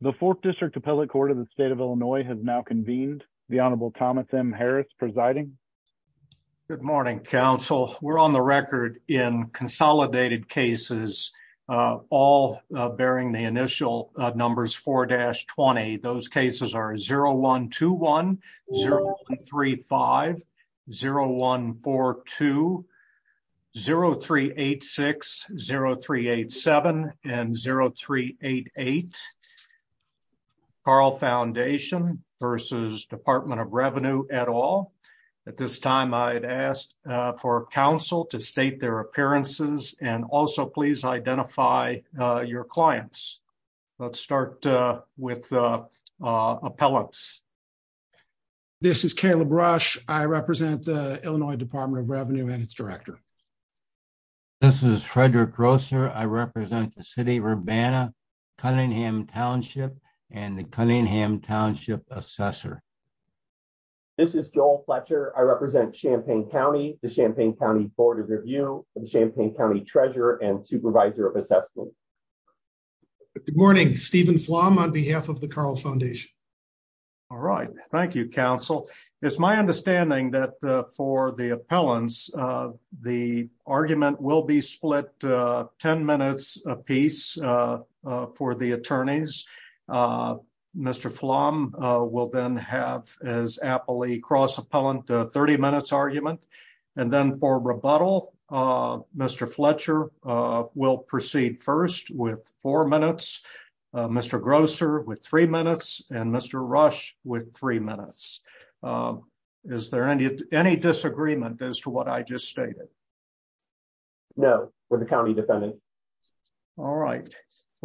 The 4th District Appellate Court of the State of Illinois has now convened. The Honorable Thomas M. Harris presiding. Good morning, counsel. We're on the record in consolidated cases, all bearing the initial numbers 4-20. Those cases are 0-121, 0-135, 0-142, 0-386, 0-387, and 0-388. Carle Foundation v. Department of Revenue et al. At this time, I'd ask for counsel to state their appearances and also please identify your clients. Let's start with the appellants. This is Caleb Rush. I represent the Illinois Department of Revenue and its director. This is Frederick Grosser. I represent the City of Urbana, Cunningham Township, and the Cunningham Township Assessor. This is Joel Fletcher. I represent Champaign County, the Champaign County Board of Review, and the Champaign County Treasurer and Supervisor of Assessment. Good morning. Stephen Flom on behalf of the Carle Foundation. All right. Thank you, counsel. It's my understanding that for the appellants, the argument will be split 10 minutes apiece for the attorneys. Mr. Flom will then have his appellee cross-appellant 30 minutes argument. Then for rebuttal, Mr. Fletcher will proceed first with four minutes, Mr. Grosser with three minutes, and Mr. Rush with three minutes. Is there any disagreement as to what I just stated? No, for the county defendant. All right.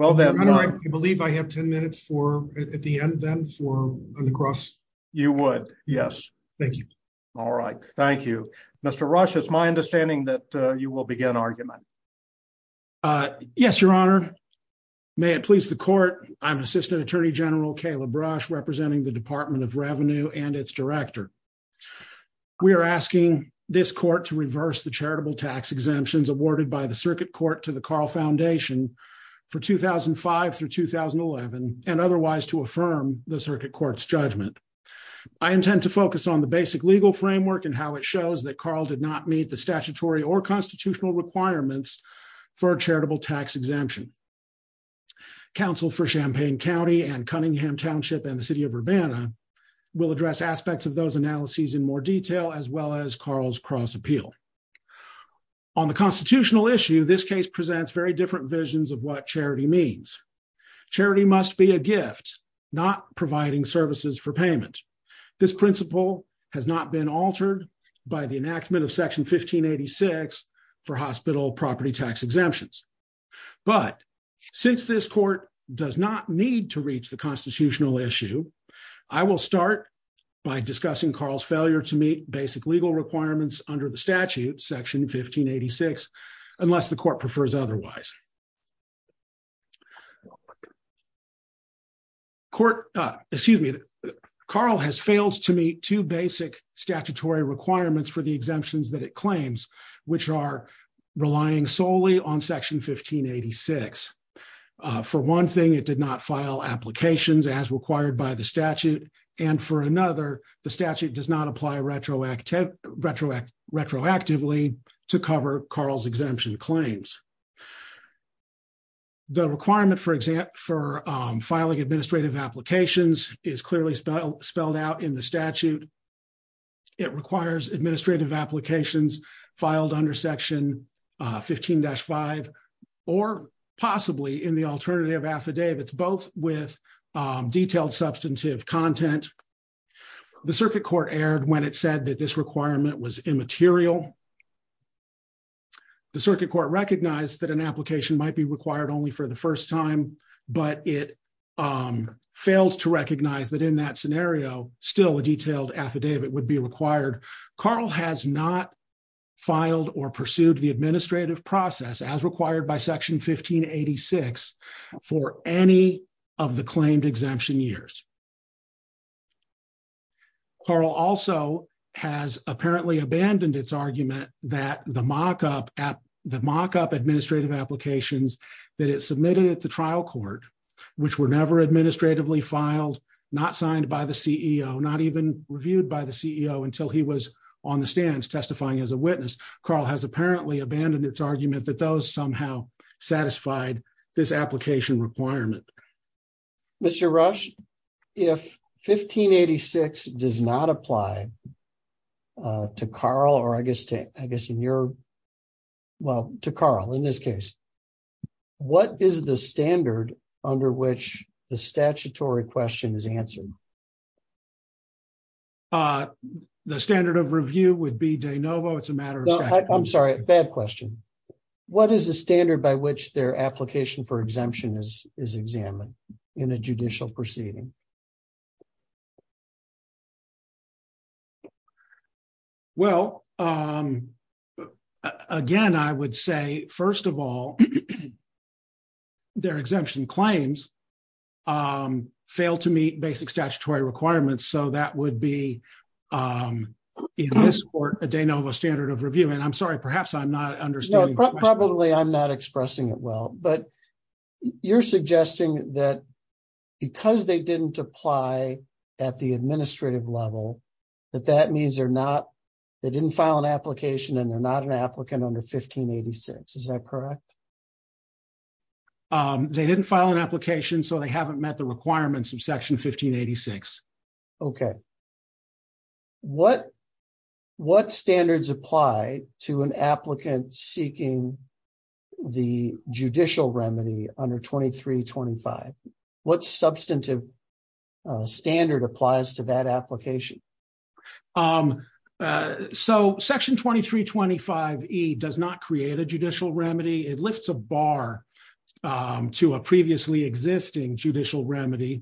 I believe I have 10 minutes at the end, then, for the cross-appellant. You would, yes. Thank you. All right. Thank you. Mr. Rush, it's my understanding that you will begin argument. Yes, Your Honor. May it please the court, I'm Assistant Attorney General Caleb Rush, representing the Department of Revenue and its director. We are asking this court to reverse the charitable tax exemptions awarded by the Circuit Court to the Carle Foundation for 2005 through 2011, and otherwise to affirm the Circuit Court's judgment. I intend to focus on the basic legal framework and how it shows that Carle did not meet the statutory or constitutional requirements for a charitable tax exemption. Counsel for Champaign County and Cunningham Township and the City of Urbana will address aspects of those analyses in more detail, as well as Carle's cross-appeal. On the constitutional issue, this case presents very different visions of what charity means. Charity must be a gift, not providing services for payment. This principle has not been altered by the enactment of Section 1586 for hospital property tax exemptions. But since this court does not need to reach the constitutional issue, I will start by discussing Carle's failure to meet basic legal requirements under the statute, Section 1586, unless the court prefers otherwise. Carle has failed to meet two basic statutory requirements for the exemptions that it claims, which are relying solely on Section 1586. For one thing, it did not file applications as required by the statute, and for another, the statute does not apply retroactively to cover Carle's exemption claims. The requirement for filing administrative applications is clearly spelled out in the statute. It requires administrative applications filed under Section 15-5 or possibly in the alternative affidavits, both with detailed substantive content. The circuit court erred when it said that this requirement was immaterial. The circuit court recognized that an application might be required only for the first time, but it failed to recognize that in that scenario, still a detailed affidavit would be required. Carle has not filed or pursued the administrative process as required by Section 1586 for any of the claimed exemption years. Carle also has apparently abandoned its argument that the mock-up administrative applications that it submitted at the trial court, which were never administratively filed, not signed by the CEO, not even reviewed by the CEO until he was on the stands testifying as a witness, Carle has apparently abandoned its argument that those somehow satisfied this application requirement. Mr. Rush, if 1586 does not apply to Carle, or I guess in your, well, to Carle in this case, what is the standard under which the statutory question is answered? The standard of review would be de novo. It's a matter of fact. I'm sorry, bad question. What is the standard by which their application for exemption is examined in a judicial proceeding? Well, again, I would say, first of all, their exemption claims fail to meet basic statutory requirements. So that would be, in this court, a de novo standard of review. And I'm sorry, perhaps I'm not understanding. Probably I'm not expressing it well, but you're suggesting that because they didn't apply at the administrative level, that that means they're not, they didn't file an application and they're not an applicant under 1586. Is that correct? They didn't file an application, so they haven't met the requirements of Section 1586. Okay. What standards apply to an applicant seeking the judicial remedy under 2325? What substantive standard applies to that application? So Section 2325E does not create a judicial remedy. It lifts a bar to a previously existing judicial remedy.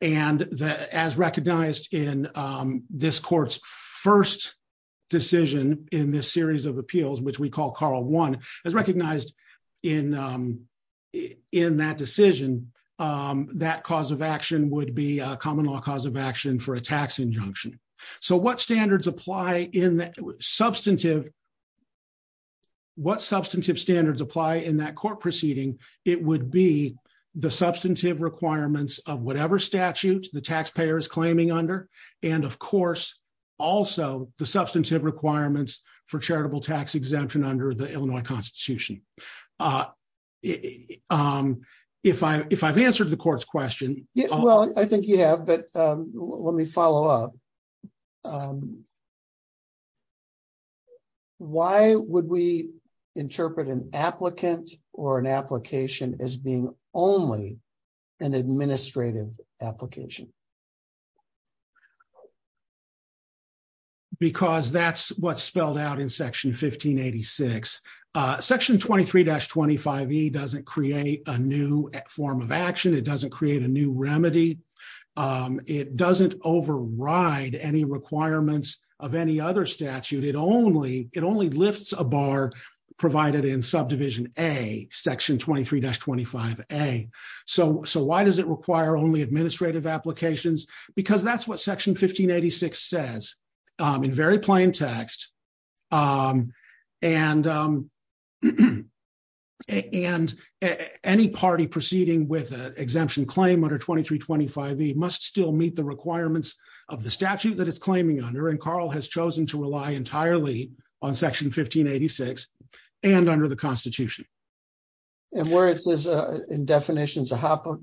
And as recognized in this court's first decision in this series of appeals, which we call Carl I, as recognized in that decision, that cause of action would be a common law cause of action for a tax injunction. So what standards apply in that substantive, what substantive standards apply in that court proceeding, it would be the substantive requirements of whatever statute the taxpayer is claiming under, and, of course, also the substantive requirements for charitable tax exemption under the Illinois Constitution. If I've answered the court's question. Well, I think you have, but let me follow up. Why would we interpret an applicant or an application as being only an administrative application? Because that's what's spelled out in Section 1586. Section 23-25E doesn't create a new form of action. It doesn't create a new remedy. It doesn't override any requirements of any other statute. It only lifts a bar provided in Subdivision A, Section 23-25A. So why does it require only administrative applications? Because that's what Section 1586 says in very plain text. And any party proceeding with an exemption claim under 23-25E must still meet the requirements of the statute that it's claiming under, and Carl has chosen to rely entirely on Section 1586 and under the Constitution. And where it says in definitions a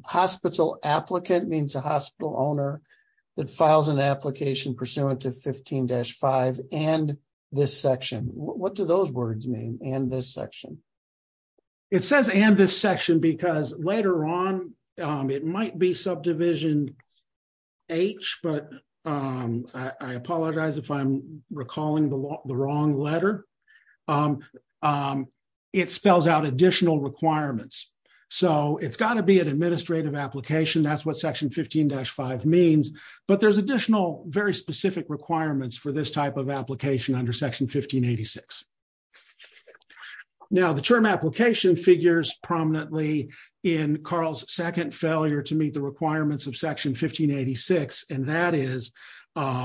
hospital applicant means a hospital owner that files an application pursuant to 15-5 and this section. What do those words mean, and this section? It says and this section because later on it might be Subdivision H, but I apologize if I'm recalling the wrong letter. It spells out additional requirements. So it's got to be an administrative application. That's what Section 15-5 means, but there's additional very specific requirements for this type of application under Section 1586. Now the term application figures prominently in Carl's second failure to meet the requirements of Section 1586, and that is that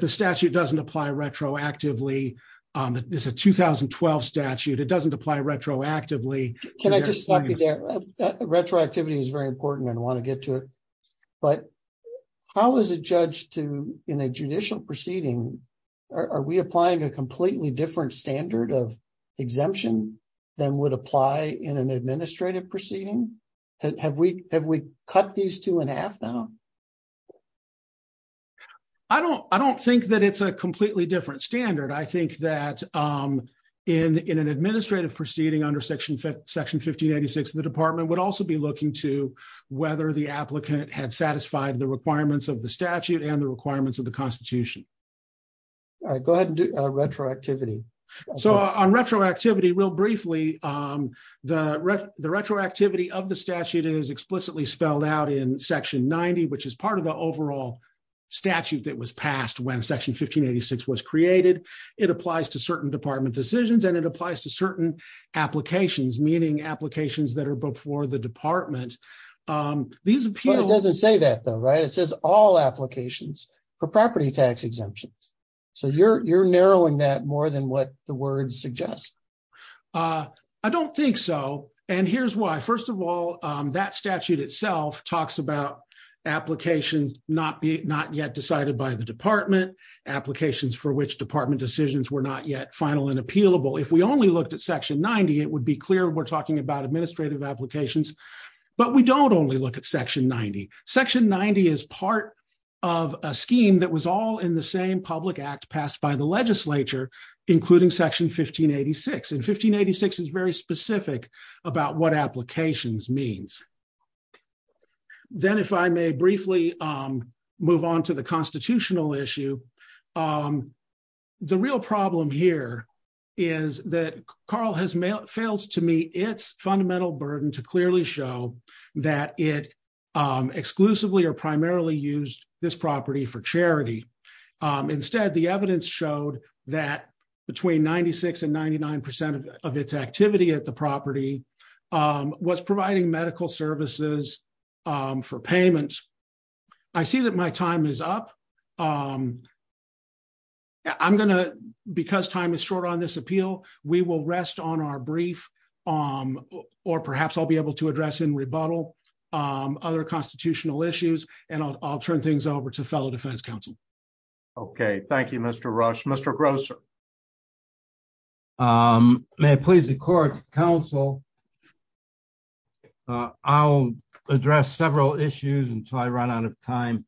the statute doesn't apply retroactively. It's a 2012 statute. It doesn't apply retroactively. Can I just stop you there? Retroactivity is very important and I want to get to it, but how is a judge in a judicial proceeding, are we applying a completely different standard of exemption than would apply in an administrative proceeding? Have we cut these two in half now? I don't think that it's a completely different standard. I think that in an administrative proceeding under Section 1586, the department would also be looking to whether the applicant had satisfied the requirements of the statute and the requirements of the Constitution. All right, go ahead and do retroactivity. So on retroactivity, real briefly, the retroactivity of the statute is explicitly spelled out in Section 90, which is part of the overall statute that was passed when Section 1586 was created. It applies to certain department decisions and it applies to certain applications, meaning applications that are before the department. It doesn't say that though, right? It says all applications for property tax exemptions. So you're narrowing that more than what the words suggest. I don't think so. And here's why. First of all, that statute itself talks about applications not yet decided by the department, applications for which department decisions were not yet final and appealable. If we only looked at Section 90, it would be clear we're talking about administrative applications. But we don't only look at Section 90. Section 90 is part of a scheme that was all in the same public act passed by the legislature, including Section 1586. And 1586 is very specific about what applications means. Then if I may briefly move on to the constitutional issue, the real problem here is that Carl has failed to meet its fundamental burden to clearly show that it exclusively or primarily used this property for charity. Instead, the evidence showed that between 96 and 99% of its activity at the property was providing medical services for payments. I see that my time is up. I'm going to, because time is short on this appeal, we will rest on our brief, or perhaps I'll be able to address in rebuttal, other constitutional issues, and I'll turn things over to fellow defense counsel. Okay, thank you, Mr. Rush. Mr. Gross. May I please, the court counsel. I'll address several issues until I run out of time.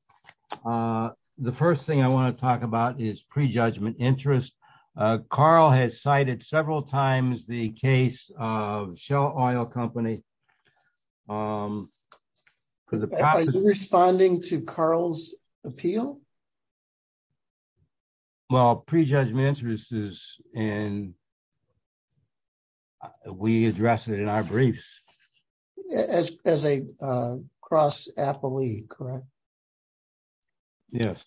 The first thing I want to talk about is prejudgment interest. Carl has cited several times the case of Shell Oil Company. Are you responding to Carl's appeal? Well, prejudgment interest is, and we address it in our briefs. As a cross-athlete, correct? Yes.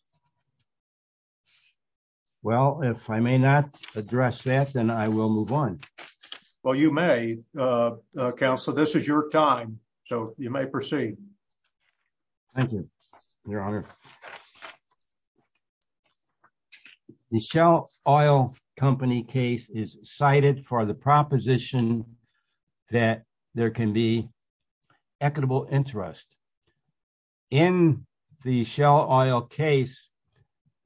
Well, if I may not address that, then I will move on. Well, you may, counsel. This is your time, so you may proceed. Thank you, Your Honor. The Shell Oil Company case is cited for the proposition that there can be equitable interest. In the Shell Oil case,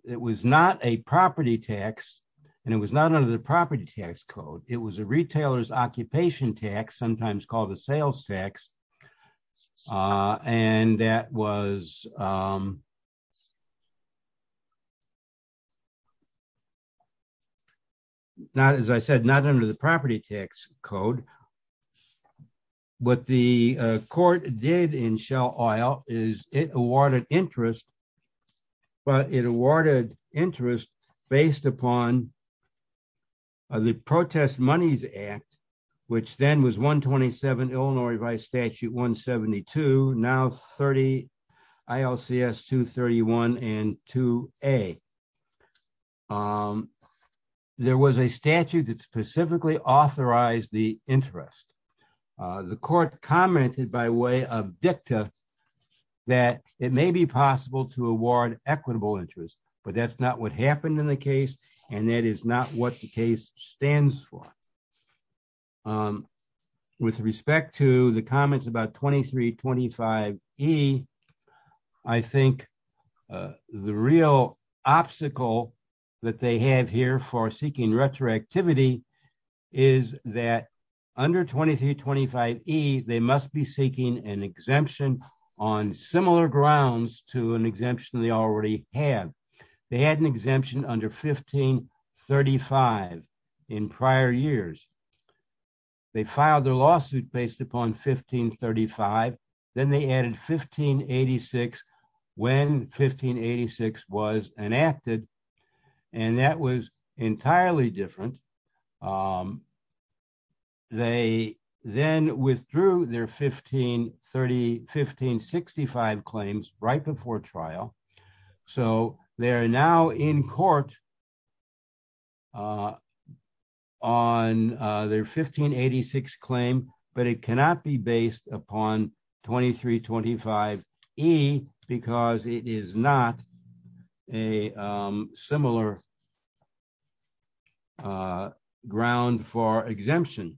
it was not a property tax, and it was not under the property tax code. It was a retailer's occupation tax, sometimes called a sales tax, and that was, as I said, not under the property tax code. What the court did in Shell Oil is it awarded interest, but it awarded interest based upon the Protest Monies Act, which then was 127 Illinois V. Statute 172, now 30 ILCS 231 and 2A. There was a statute that specifically authorized the interest. The court commented by way of dicta that it may be possible to award equitable interest, but that's not what happened in the case, and that is not what the case stands for. With respect to the comments about 2325E, I think the real obstacle that they have here for seeking retroactivity is that under 2325E, they must be seeking an exemption on similar grounds to an exemption they already have. They had an exemption under 1535 in prior years. They filed their lawsuit based upon 1535. Then they added 1586 when 1586 was enacted, and that was entirely different. They then withdrew their 1565 claims right before trial, so they are now in court on their 1586 claim, but it cannot be based upon 2325E because it is not a similar ground for exemption.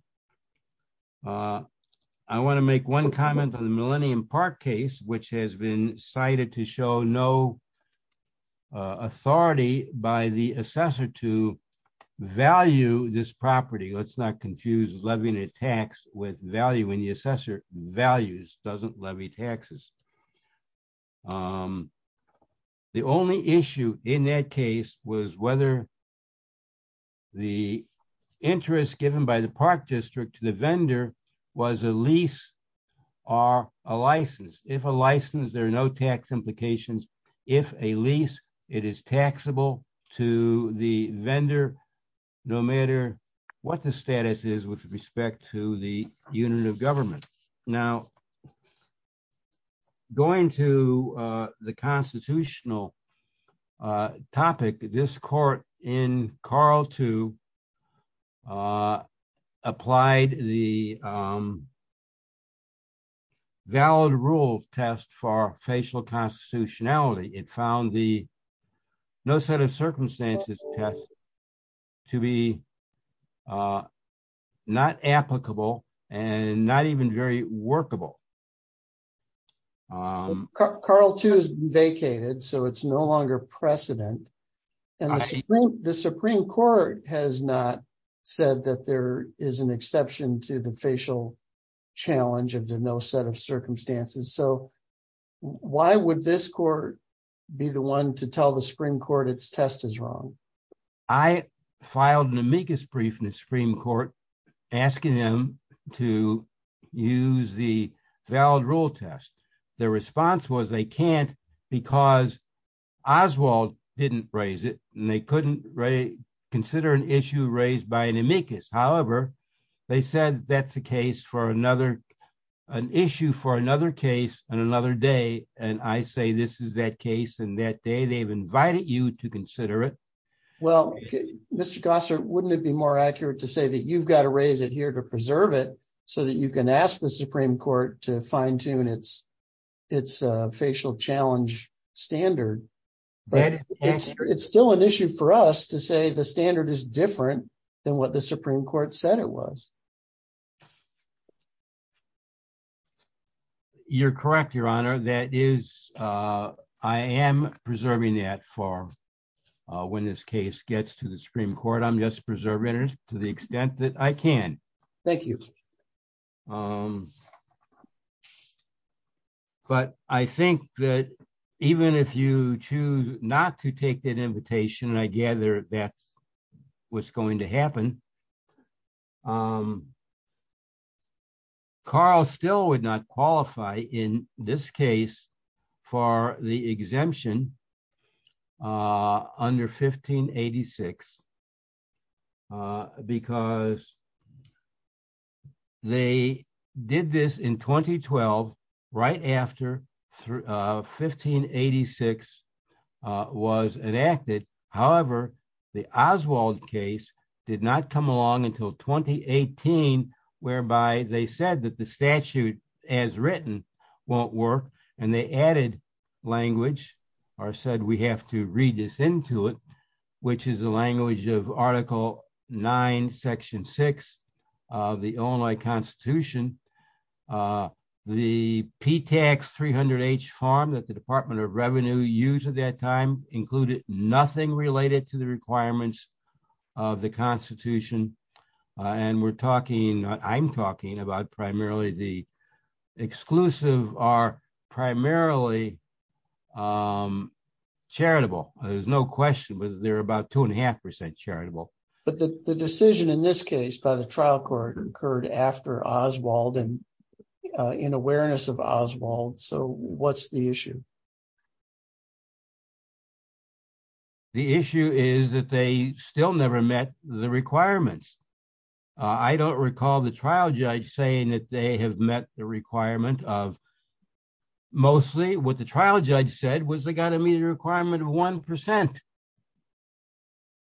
I want to make one comment on the Millennium Park case, which has been cited to show no authority by the assessor to value this property. Let's not confuse levying a tax with valuing. The assessor values, doesn't levy taxes. The only issue in that case was whether the interest given by the park district to the vendor was a lease or a license. If a license, there are no tax implications. If a lease, it is taxable to the vendor, no matter what the status is with respect to the unit of government. Now, going to the constitutional topic, this court in Carl II applied the valid rules test for facial constitutionality. It found the no set of circumstances test to be not applicable and not even very workable. Carl II is vacated, so it is no longer precedent. The Supreme Court has not said that there is an exception to the facial challenge of the no set of circumstances. Why would this court be the one to tell the Supreme Court it's test is wrong? I filed an amicus brief in the Supreme Court asking him to use the valid rule test. The response was they can't because Oswald didn't raise it. They couldn't consider an issue raised by an amicus. However, they said that is an issue for another case and another day. I say this is that case and that they have invited you to consider it. Mr. Gossard, wouldn't it be more accurate to say you have to raise it here to preserve it so you can ask the Supreme Court to fine-tune its facial challenge standard? It's still an issue for us to say the standard is different than what the Supreme Court said it was. You're correct, Your Honor. I am preserving that for when this case gets to the Supreme Court. I'm just preserving it to the extent that I can. Thank you. Thank you, Mr. Gossard. I think that even if you choose not to take that invitation, I gather that's what's going to happen, Carl still would not qualify in this case for the exemption under 1586. Because they did this in 2012 right after 1586 was enacted. However, the Oswald case did not come along until 2018, whereby they said that the statute as written won't work. And they added language or said we have to read this into it, which is the language of Article 9, Section 6 of the Illinois Constitution. The PTAC 300H form that the Department of Revenue used at that time included nothing related to the requirements of the Constitution. And I'm talking about primarily the exclusive are primarily charitable. There's no question, but they're about 2.5% charitable. But the decision in this case by the trial court occurred after Oswald and in awareness of Oswald. So what's the issue? The issue is that they still never met the requirements. I don't recall the trial judge saying that they have met the requirement of mostly what the trial judge said was they got to meet a requirement of 1%.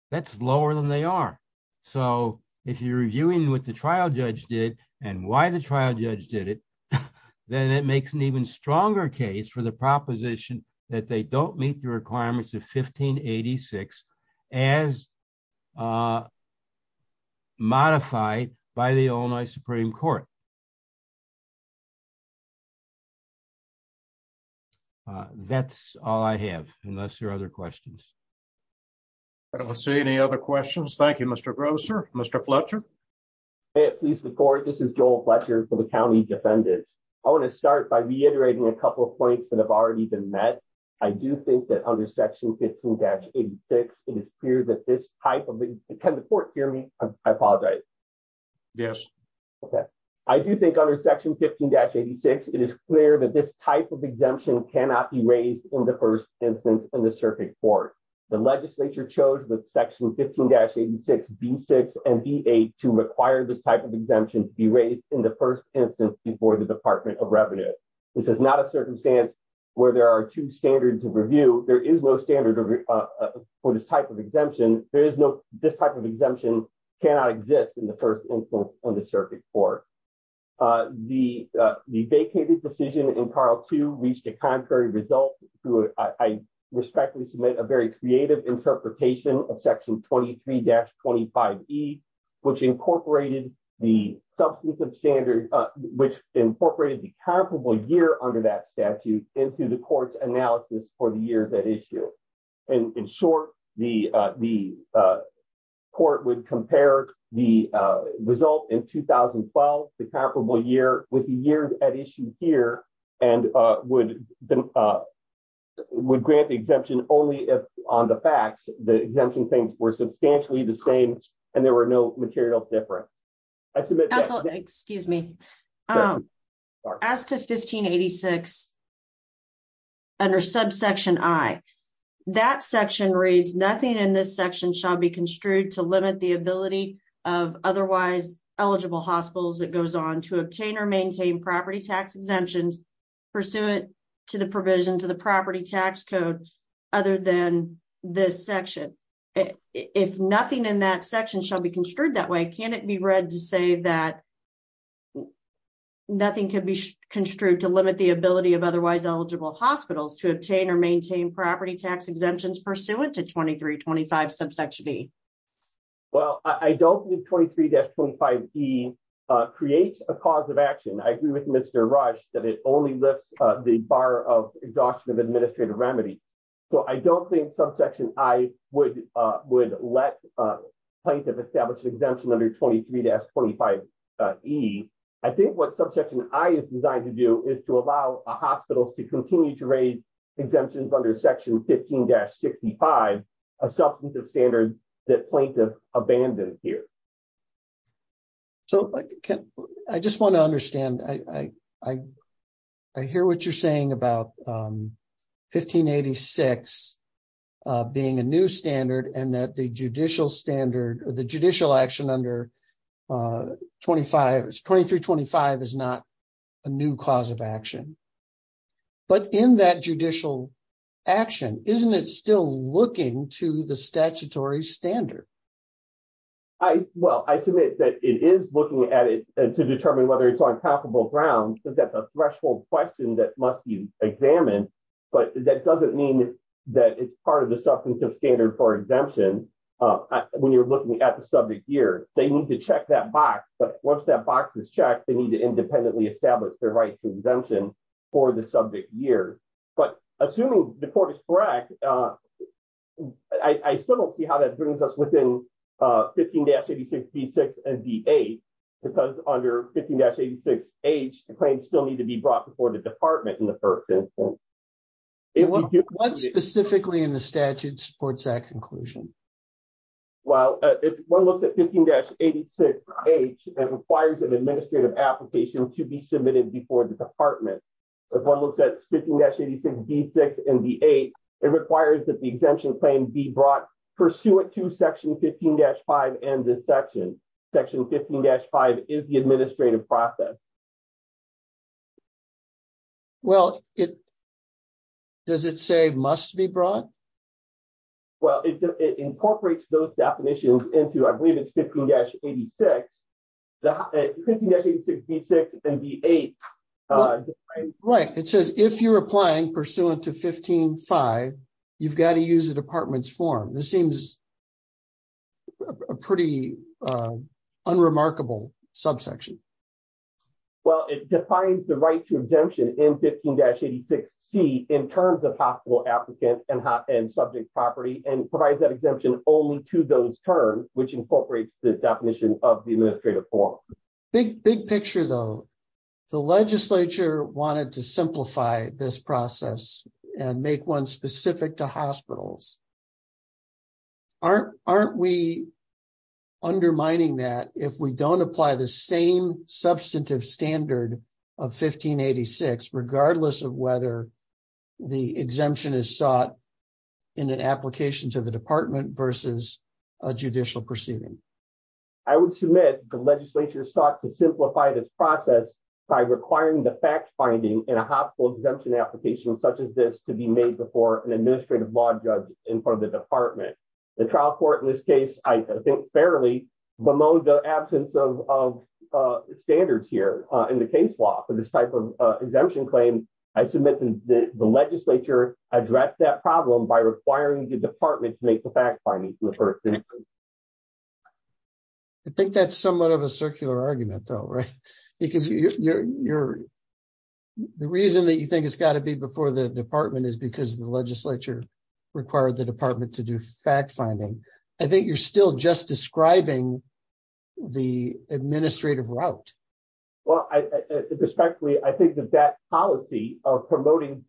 That's lower than they are. So if you're viewing what the trial judge did and why the trial judge did it, then it makes an even stronger case for the proposition that they don't meet the requirements of 1586 as modified by the Illinois Supreme Court. That's all I have, unless there are other questions. I don't see any other questions. Thank you, Mr. Grosser. Mr. Fletcher. Please, this is Joel Fletcher for the County Defendant. I want to start by reiterating a couple of points that have already been met. I do think that under Section 15-86, it is clear that this type of exemption cannot be raised in the first instance in the circuit court. The legislature chose with Section 15-86, B6, and B8 to require this type of exemption to be raised in the first instance before the Department of Revenue. This is not a circumstance where there are two standards of review. There is no standard for this type of exemption. This type of exemption cannot exist in the first instance on the circuit court. The vacated decision in Part 2 reached a contrary result. I respectfully submit a very creative interpretation of Section 23-25e, which incorporated the comparable year under that statute into the court's analysis for the year of the issue. In short, the court would compare the result in 2012, the comparable year, with the year at issue here, and would grant the exemption only if on the facts the exemption claims were substantially the same and there were no material differences. As to Section 15-86, under subsection I, that section reads, nothing in this section shall be construed to limit the ability of otherwise eligible hospitals, it goes on, to obtain or maintain property tax exemptions pursuant to the provision to the property tax codes other than this section. If nothing in that section shall be construed that way, can it be read to say that nothing can be construed to limit the ability of otherwise eligible hospitals to obtain or maintain property tax exemptions pursuant to 23-25 subsection E? Well, I don't think 23-25e creates a cause of action. I agree with Mr. Rush that it only lifts the bar of exhaustion of administrative remedy. So I don't think subsection I would let plaintiffs establish an exemption under 23-25e. I think what subsection I is designed to do is to allow hospitals to continue to raise exemptions under Section 15-65, a substantive standard that plaintiffs abandon here. So I just want to understand, I hear what you're saying about 15-86 being a new standard and that the judicial standard, the judicial action under 23-25 is not a new cause of action. But in that judicial action, isn't it still looking to the statutory standard? Well, I submit that it is looking at it to determine whether it's on talkable grounds because that's a threshold question that must be examined. But that doesn't mean that it's part of the substantive standard for exemption when you're looking at the subject year. They need to check that box, but once that box is checked, they need to independently establish their right to exemption for the subject year. But assuming the court is correct, I still don't see how that brings us within 15-86d6 and d8 because under 15-86h, the claims still need to be brought before the department in the first instance. What specifically in the statute supports that conclusion? Well, if one looks at 15-86h, it requires an administrative application to be submitted before the department. If one looks at 15-86d6 and d8, it requires that the exemption claim be brought pursuant to section 15-5 and this section. Section 15-5 is the administrative process. Well, does it say must be brought? Well, it incorporates those definitions into I believe it's 15-86. 15-86d6 and d8. Right. It says if you're applying pursuant to 15-5, you've got to use the department's form. This seems a pretty unremarkable subsection. Well, it defines the right to exemption in 15-86d in terms of possible applicant and subject property and provides that exemption only to those terms, which incorporates the definition of the administrative form. Big picture though. The legislature wanted to simplify this process and make one specific to hospitals. Aren't we undermining that if we don't apply the same substantive standard of 15-86, regardless of whether the exemption is sought in an application to the department versus a judicial proceeding? I would submit the legislature sought to simplify this process by requiring the fact-finding in a hospital exemption application such as this to be made before an administrative law judge in front of the department. The trial court in this case, I think fairly bemoaned the absence of standards here in the case law for this type of exemption claim. I submit that the legislature addressed that problem by requiring the department to make the fact-finding to the person. I think that's somewhat of a circular argument though, right? The reason that you think it's got to be before the department is because the legislature required the department to do fact-finding. I think you're still just describing the administrative route. Respectfully, I think that that policy of relying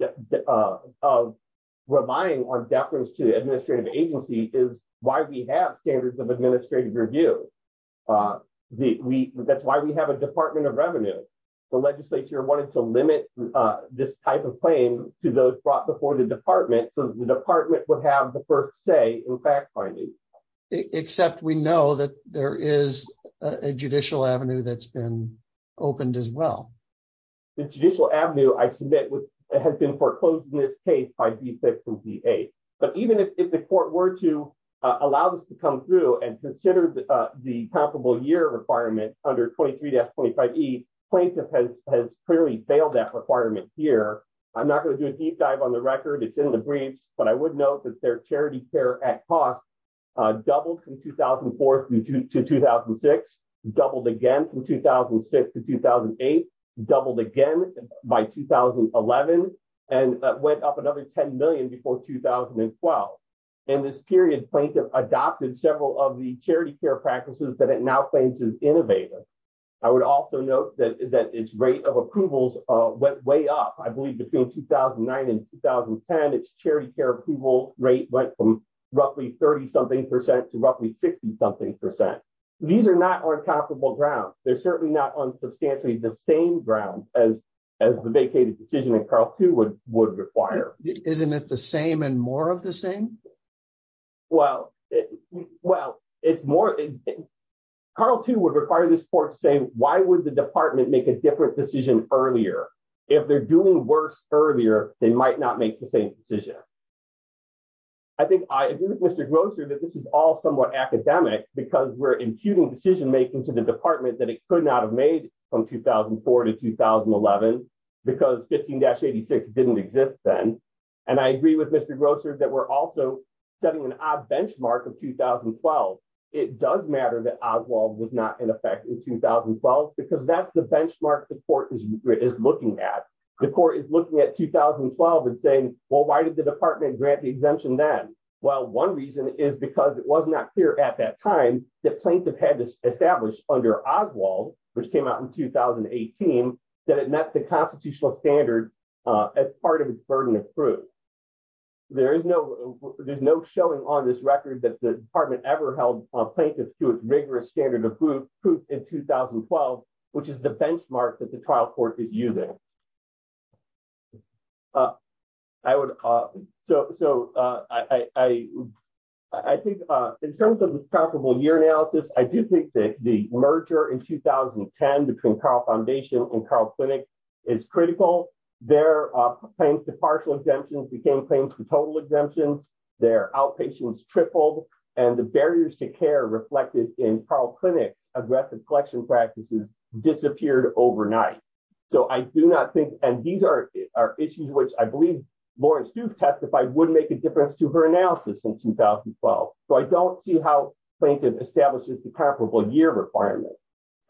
on deference to the administrative agency is why we have standards of administrative review. That's why we have a department of revenue. The legislature wanted to limit this type of claim to those brought before the department so the department would have the first say in fact-finding. Except we know that there is a judicial avenue that's been opened as well. The judicial avenue, I submit, has been foreclosed in this case by D6 and D8. Even if the court were to allow this to come through and consider the comparable year requirement under 23-25E, plaintiff has clearly failed that requirement here. I'm not going to do a deep dive on the record, it's in the brief, but I would note that their charity care at cost doubled from 2004 to 2006, doubled again from 2006 to 2008, doubled again by 2011, and went up another $10 million before 2012. This period, plaintiff adopted several of the charity care practices that it now claims is innovative. I would also note that its rate of approvals went way up. I believe between 2009 and 2010, its charity care approval rate went from roughly 30-something percent to roughly 60-something percent. These are not uncomparable grounds. They're certainly not on substantially the same ground as the vacated decision that Carl II would require. Isn't it the same and more of the same? Well, it's more... Carl II would require this court saying, why would the department make a different decision earlier? If they're doing worse earlier, they might not make the same decision. I think I agree with Mr. Grosser that this is all somewhat academic because we're imputing decision-making to the department that it could not have made from 2004 to 2011 because 15-86 didn't exist then. And I agree with Mr. Grosser that we're also setting an odd benchmark of 2012. It does matter that Oswald was not in effect in 2012 because that's the benchmark the court is looking at. The court is looking at 2012 and saying, well, why did the department grant the exemption then? Well, one reason is because it was not clear at that time that Plaintiff had established under Oswald, which came out in 2018, that it met the constitutional standard as part of its burden of proof. There's no showing on this record that the department ever held Plaintiff to its rigorous standard of proof in 2012, which is the benchmark that the trial court is using. I would, so I think in terms of the scalable year analysis, I do think that the merger in 2010 between Carl Foundation and Carl Clinic is critical. Their claims to partial exemptions became claims to total exemptions. Their outpatients tripled, and the barriers to care reflected in Carl Clinic aggressive collection practices disappeared overnight. So I do not think, and these are issues which I believe Lawrence Duke testified would make a difference to her analysis in 2012. So I don't see how Plaintiff establishes the comparable year requirement.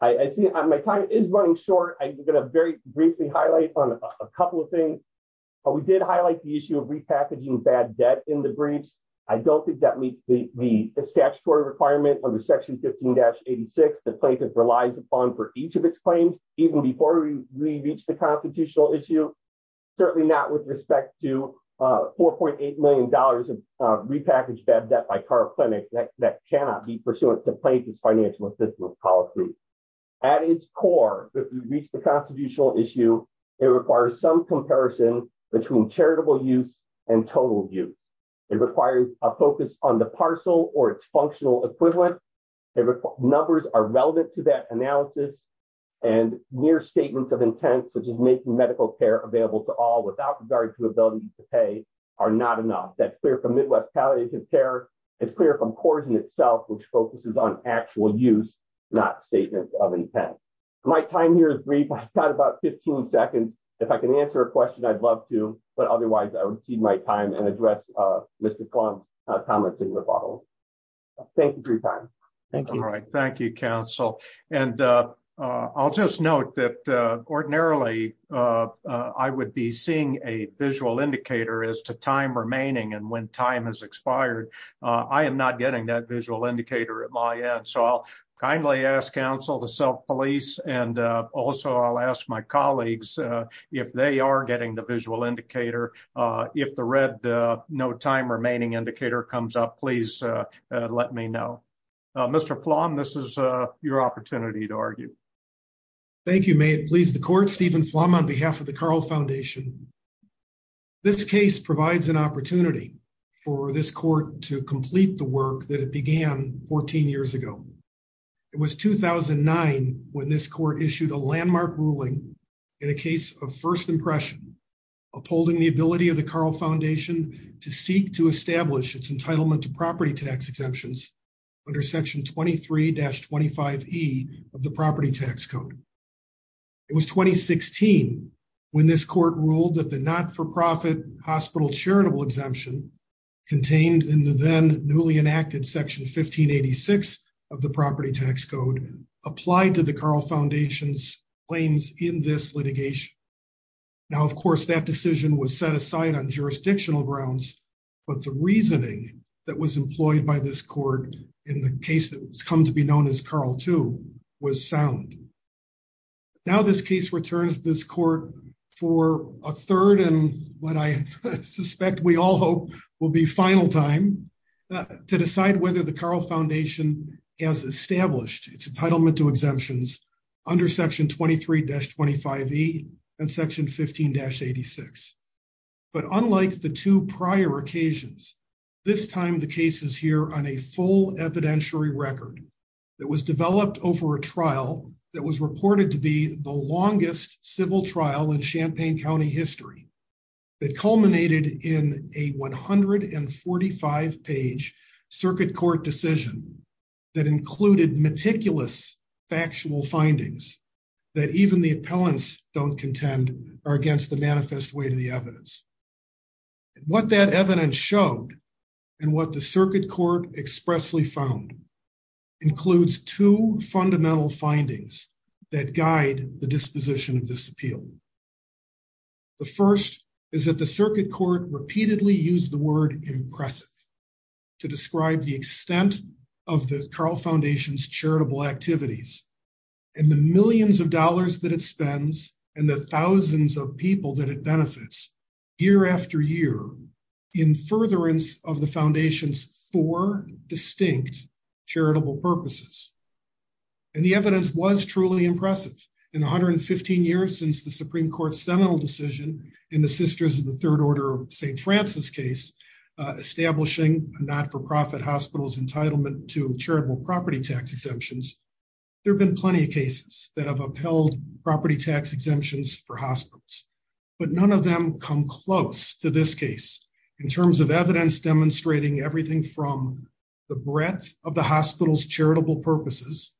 My time is running short. I'm going to very briefly highlight a couple of things. We did highlight the issue of repackaging bad debt in the breach. I don't think that meets the statutory requirement under Section 15-86 that Plaintiff relies upon for each of its claims. Does that reach the constitutional issue? Certainly not with respect to $4.8 million of repackaged bad debt by Carl Clinic that cannot be pursuant to Plaintiff's financial assistance policy. At its core, does it reach the constitutional issue? It requires some comparison between charitable use and total use. It requires a focus on the parcel or its functional equivalent. Numbers are relevant to that analysis, and mere statements of intent, which is making medical care available to all without regard to the ability to pay, are not enough. That's clear from midwest palliative care. It's clear from Corson itself, which focuses on actual use, not statements of intent. My time here is brief. I've got about 15 seconds. If I can answer a question, I'd love to. But otherwise, I'll recede my time and address Mr. Klum's comments in the following. Thank you for your time. Thank you, counsel. I'll just note that ordinarily, I would be seeing a visual indicator as to time remaining and when time has expired. I am not getting that visual indicator at my end. I'll kindly ask counsel to self-police. Also, I'll ask my colleagues if they are getting the visual indicator. If the red no time remaining indicator comes up, please let me know. Mr. Plum, this is your opportunity to argue. Thank you. May it please the court. Stephen Plum on behalf of the Carl Foundation. This case provides an opportunity for this court to complete the work that it began 14 years ago. It was 2009 when this court issued a landmark ruling in a case of first impression upholding the ability of the Carl Foundation to seek to establish its entitlement to property tax exemptions under Section 23-25E of the Property Tax Code. It was 2016 when this court ruled that the not-for-profit hospital charitable exemption contained in the then newly enacted Section 1586 of the Property Tax Code applied to the Carl Foundation's claims in this litigation. Now, of course, that decision was set aside on jurisdictional grounds, but the reasoning that was employed by this court in the case that has come to be known as Carl II was sound. Now this case returns this court for a third and what I suspect we all hope will be final time to decide whether the Carl Foundation has established its entitlement to exemptions under Section 23-25E and Section 15-86. But unlike the two prior occasions, this time the case is here on a full evidentiary record that was developed over a trial that was reported to be the longest civil trial in Champaign County history. It culminated in a 145-page circuit court decision that included meticulous factual findings that even the appellants don't contend are against the manifest way to the evidence. What that evidence showed and what the circuit court expressly found includes two fundamental findings that guide the disposition of this appeal. The first is that the circuit court repeatedly used the word impressive to describe the extent of the Carl Foundation's charitable activities and the millions of dollars that it spends and the thousands of people that it benefits year after year in furtherance of the Foundation's four distinct charitable purposes. And the evidence was truly impressive. In 115 years since the Supreme Court's seminal decision in the Sisters of the Third Order St. Francis case, establishing a not-for-profit hospital's entitlement to charitable property tax exemptions, there have been plenty of cases that have upheld property tax exemptions for hospitals. But none of them come close to this case in terms of evidence demonstrating everything from the breadth of the hospital's charitable purposes,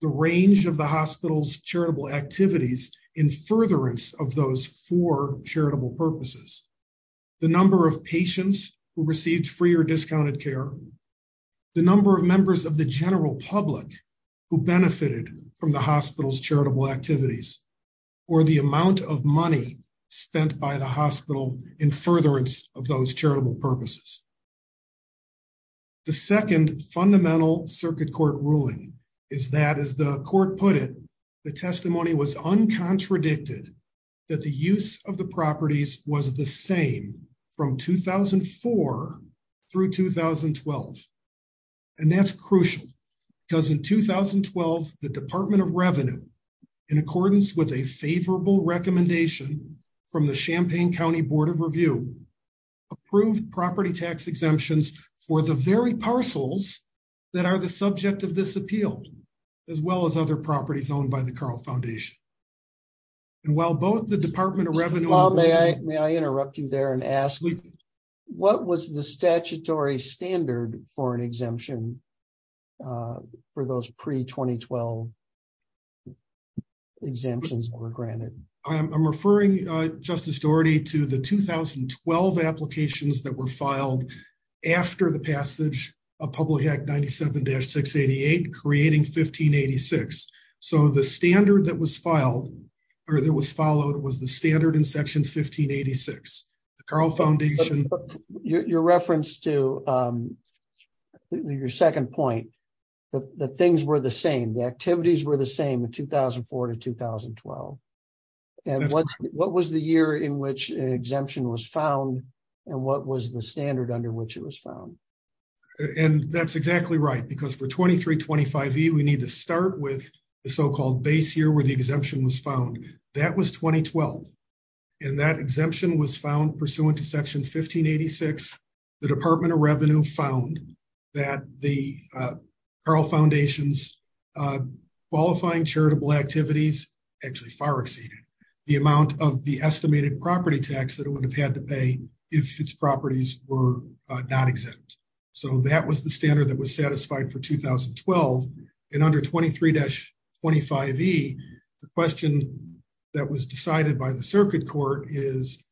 the range of the hospital's charitable activities in furtherance of those four charitable purposes, the number of patients who received free or discounted care, the number of members of the general public who benefited from the hospital's charitable activities, or the amount of money spent by the hospital in furtherance of those charitable purposes. The second fundamental circuit court ruling is that, as the court put it, the testimony was uncontradicted that the use of the properties was the same from 2004 through 2012. And that's crucial, because in 2012, the Department of Revenue, in accordance with a favorable recommendation from the Champaign County Board of Review, approved property tax exemptions for the very parcels that are the subject of this appeal, as well as other properties owned by the Carl Foundation. And while both the Department of Revenue... Bob, may I interrupt you there and ask, what was the statutory standard for an exemption for those pre-2012 exemptions that were granted? I'm referring, Justice Doherty, to the 2012 applications that were filed after the passage of Public Act 97-688, creating 1586. So the standard that was filed, or that was followed, was the standard in Section 1586. The Carl Foundation... Your reference to your second point, that things were the same, the activities were the same in 2004 to 2012. And what was the year in which an exemption was found, and what was the standard under which it was found? And that's exactly right, because for 2325E, we need to start with the so-called base year where the exemption was found. That was 2012. And that exemption was found pursuant to Section 1586. The Department of Revenue found that the Carl Foundation's qualifying charitable activities actually far exceeded the amount of the estimated property tax that it would have had to pay if its properties were not exempt. So that was the standard that was satisfied for 2012. And under 23-25E, the question that was decided by the Circuit Court is,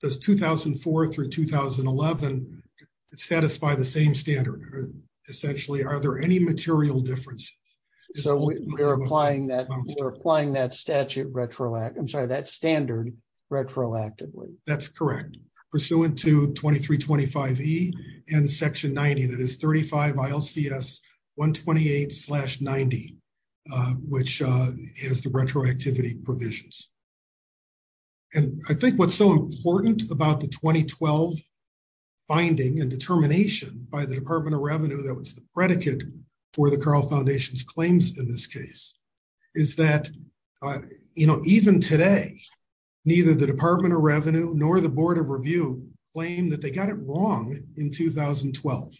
does 2004 through 2011 satisfy the same standard? Essentially, are there any material differences? So we're applying that statute retroactively. I'm sorry, that standard retroactively. That's correct, pursuant to 23-25E and Section 90, that is 35 ILCS 128-90, which is the retroactivity provisions. And I think what's so important about the 2012 finding and determination by the Department of Revenue that was the predicate for the Carl Foundation's claims in this case is that, you know, even today, neither the Department of Revenue nor the Board of Review claim that they got it wrong in 2012.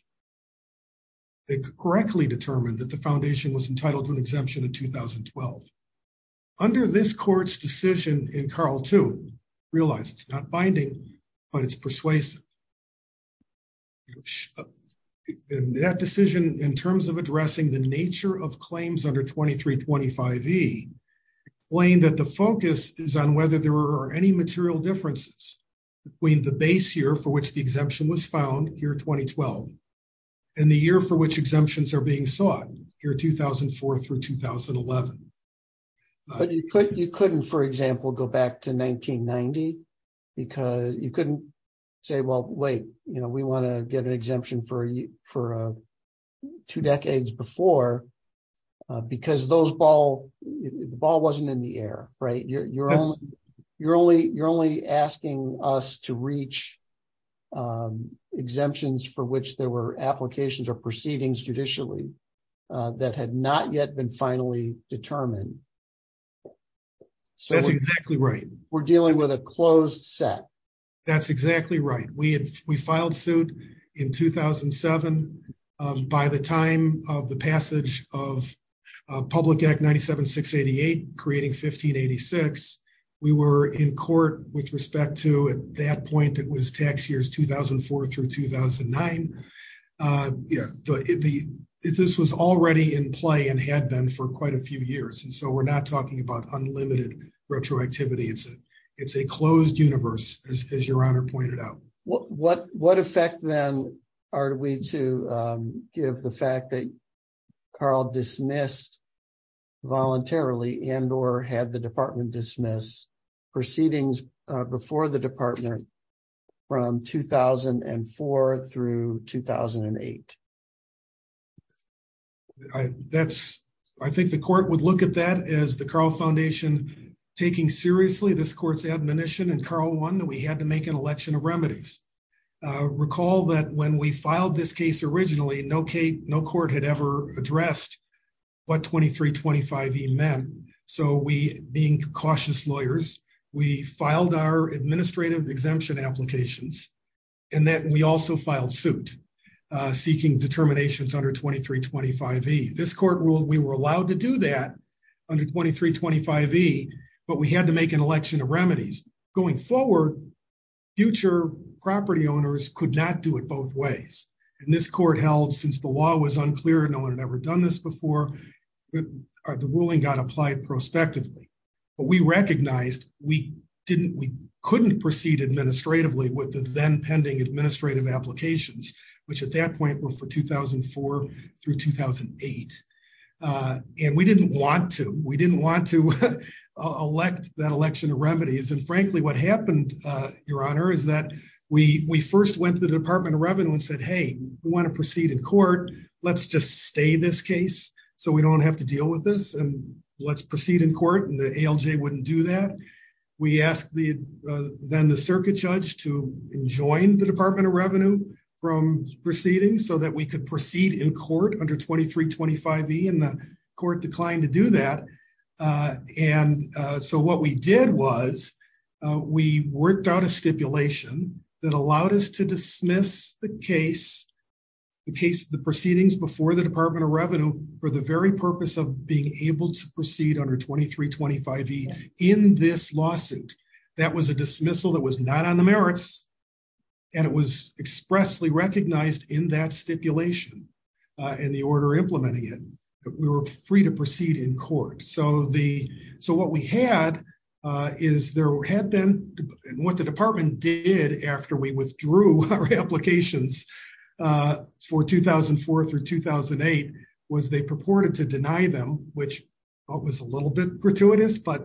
They correctly determined that the foundation was entitled to an exemption in 2012. Under this court's decision in Carl II, realize it's not binding, but it's persuasive. That decision, in terms of addressing the nature of claims under 23-25E, claimed that the focus is on whether there are any material differences between the base year for which the exemption was found, year 2012, and the year for which exemptions are being sought, year 2004 through 2011. But you couldn't, for example, go back to 1990 because you couldn't say, well, wait, you know, we want to get an exemption for two decades before, because the ball wasn't in the air, right? You're only asking us to reach exemptions for which there were applications or proceedings judicially that had not yet been finally determined. That's exactly right. We're dealing with a closed set. That's exactly right. We filed suit in 2007. By the time of the passage of Public Act 97-688, creating 1586, we were in court with respect to, at that point, it was tax years 2004 through 2009. This was already in play and had been for quite a few years, and so we're not talking about unlimited retroactivity. It's a closed universe, as your Honor pointed out. What effect, then, are we to give the fact that Carl dismissed voluntarily and or had the Department dismiss proceedings before the Department from 2004 through 2008? I think the court would look at that as the Carl Foundation taking seriously this court's admonition in Carl I that we had to make an election of remedies. Recall that when we filed this case originally, no court had ever addressed what 2325E meant. Being cautious lawyers, we filed our administrative exemption applications, and then we also filed suit seeking determinations under 2325E. This court ruled we were allowed to do that under 2325E, but we had to make an election of remedies. Going forward, future property owners could not do it both ways. This court held, since the law was unclear, no one had ever done this before, the ruling got applied prospectively. But we recognized we couldn't proceed administratively with the then pending administrative applications, which at that point were for 2004 through 2008. And we didn't want to. We didn't want to elect that election of remedies. And frankly, what happened, your Honor, is that we first went to the Department of Revenue and said, hey, we want to proceed in court, let's just stay this case so we don't have to deal with this, and let's proceed in court, and the ALJ wouldn't do that. We asked then the circuit judge to join the Department of Revenue from proceeding so that we could proceed in court under 2325E, and the court declined to do that. And so what we did was we worked out a stipulation that allowed us to dismiss the case, the proceedings before the Department of Revenue, for the very purpose of being able to proceed under 2325E in this lawsuit. That was a dismissal that was not on the merits, and it was expressly recognized in that stipulation and the order implementing it. We were free to proceed in court. So what we had is what the department did after we withdrew our applications for 2004 through 2008 was they purported to deny them, which was a little bit gratuitous, but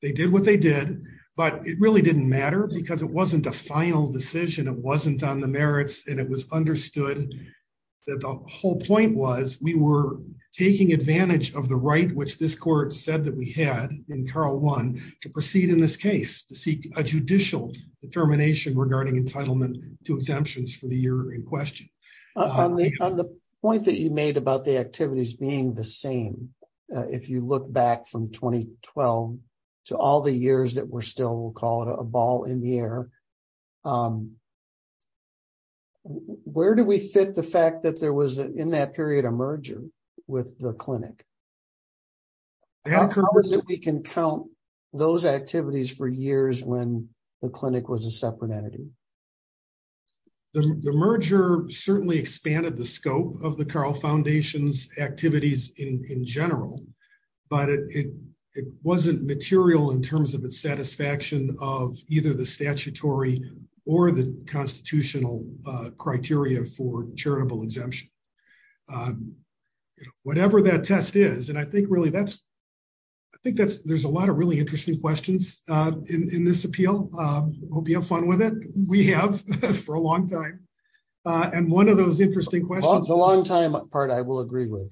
they did what they did. But it really didn't matter because it wasn't a final decision. It wasn't on the merits, and it was understood that the whole point was we were taking advantage of the right which this court said that we had in Carl I to proceed in this case to seek a judicial determination regarding entitlement to exemptions for the year in question. On the point that you made about the activities being the same, if you look back from 2012 to all the years that we're still, we'll call it a ball in the air, where do we fit the fact that there was in that period a merger with the clinic? How is it we can count those activities for years when the clinic was a separate entity? The merger certainly expanded the scope of the Carl Foundation's activities in general, but it wasn't material in terms of the satisfaction of either the statutory or the constitutional criteria for charitable exemption. Whatever that test is, and I think really that's, I think there's a lot of really interesting questions in this appeal. Hope you have fun with it. We have for a long time. And one of those interesting questions- The long time part I will agree with.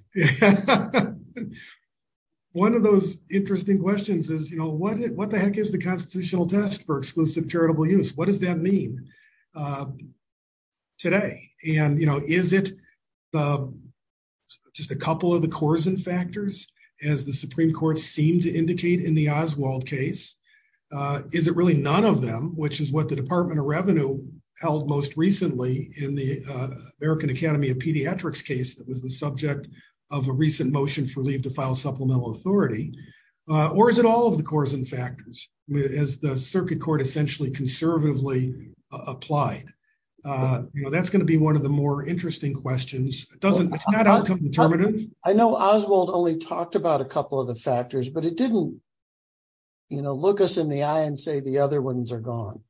One of those interesting questions is, you know, what the heck is the constitutional test for exclusive charitable use? What does that mean today? And, you know, is it just a couple of the coarsen factors, as the Supreme Court seemed to indicate in the Oswald case? Is it really none of them, which is what the Department of Revenue held most recently in the American Academy of Pediatrics case that was the subject of a recent motion for leave to file supplemental authority? Or is it all of the coarsen factors, as the circuit court essentially conservatively applied? You know, that's going to be one of the more interesting questions. It's not outcome determinants. I know Oswald only talked about a couple of the factors, but it didn't, you know, look us in the eye and say the other ones are gone.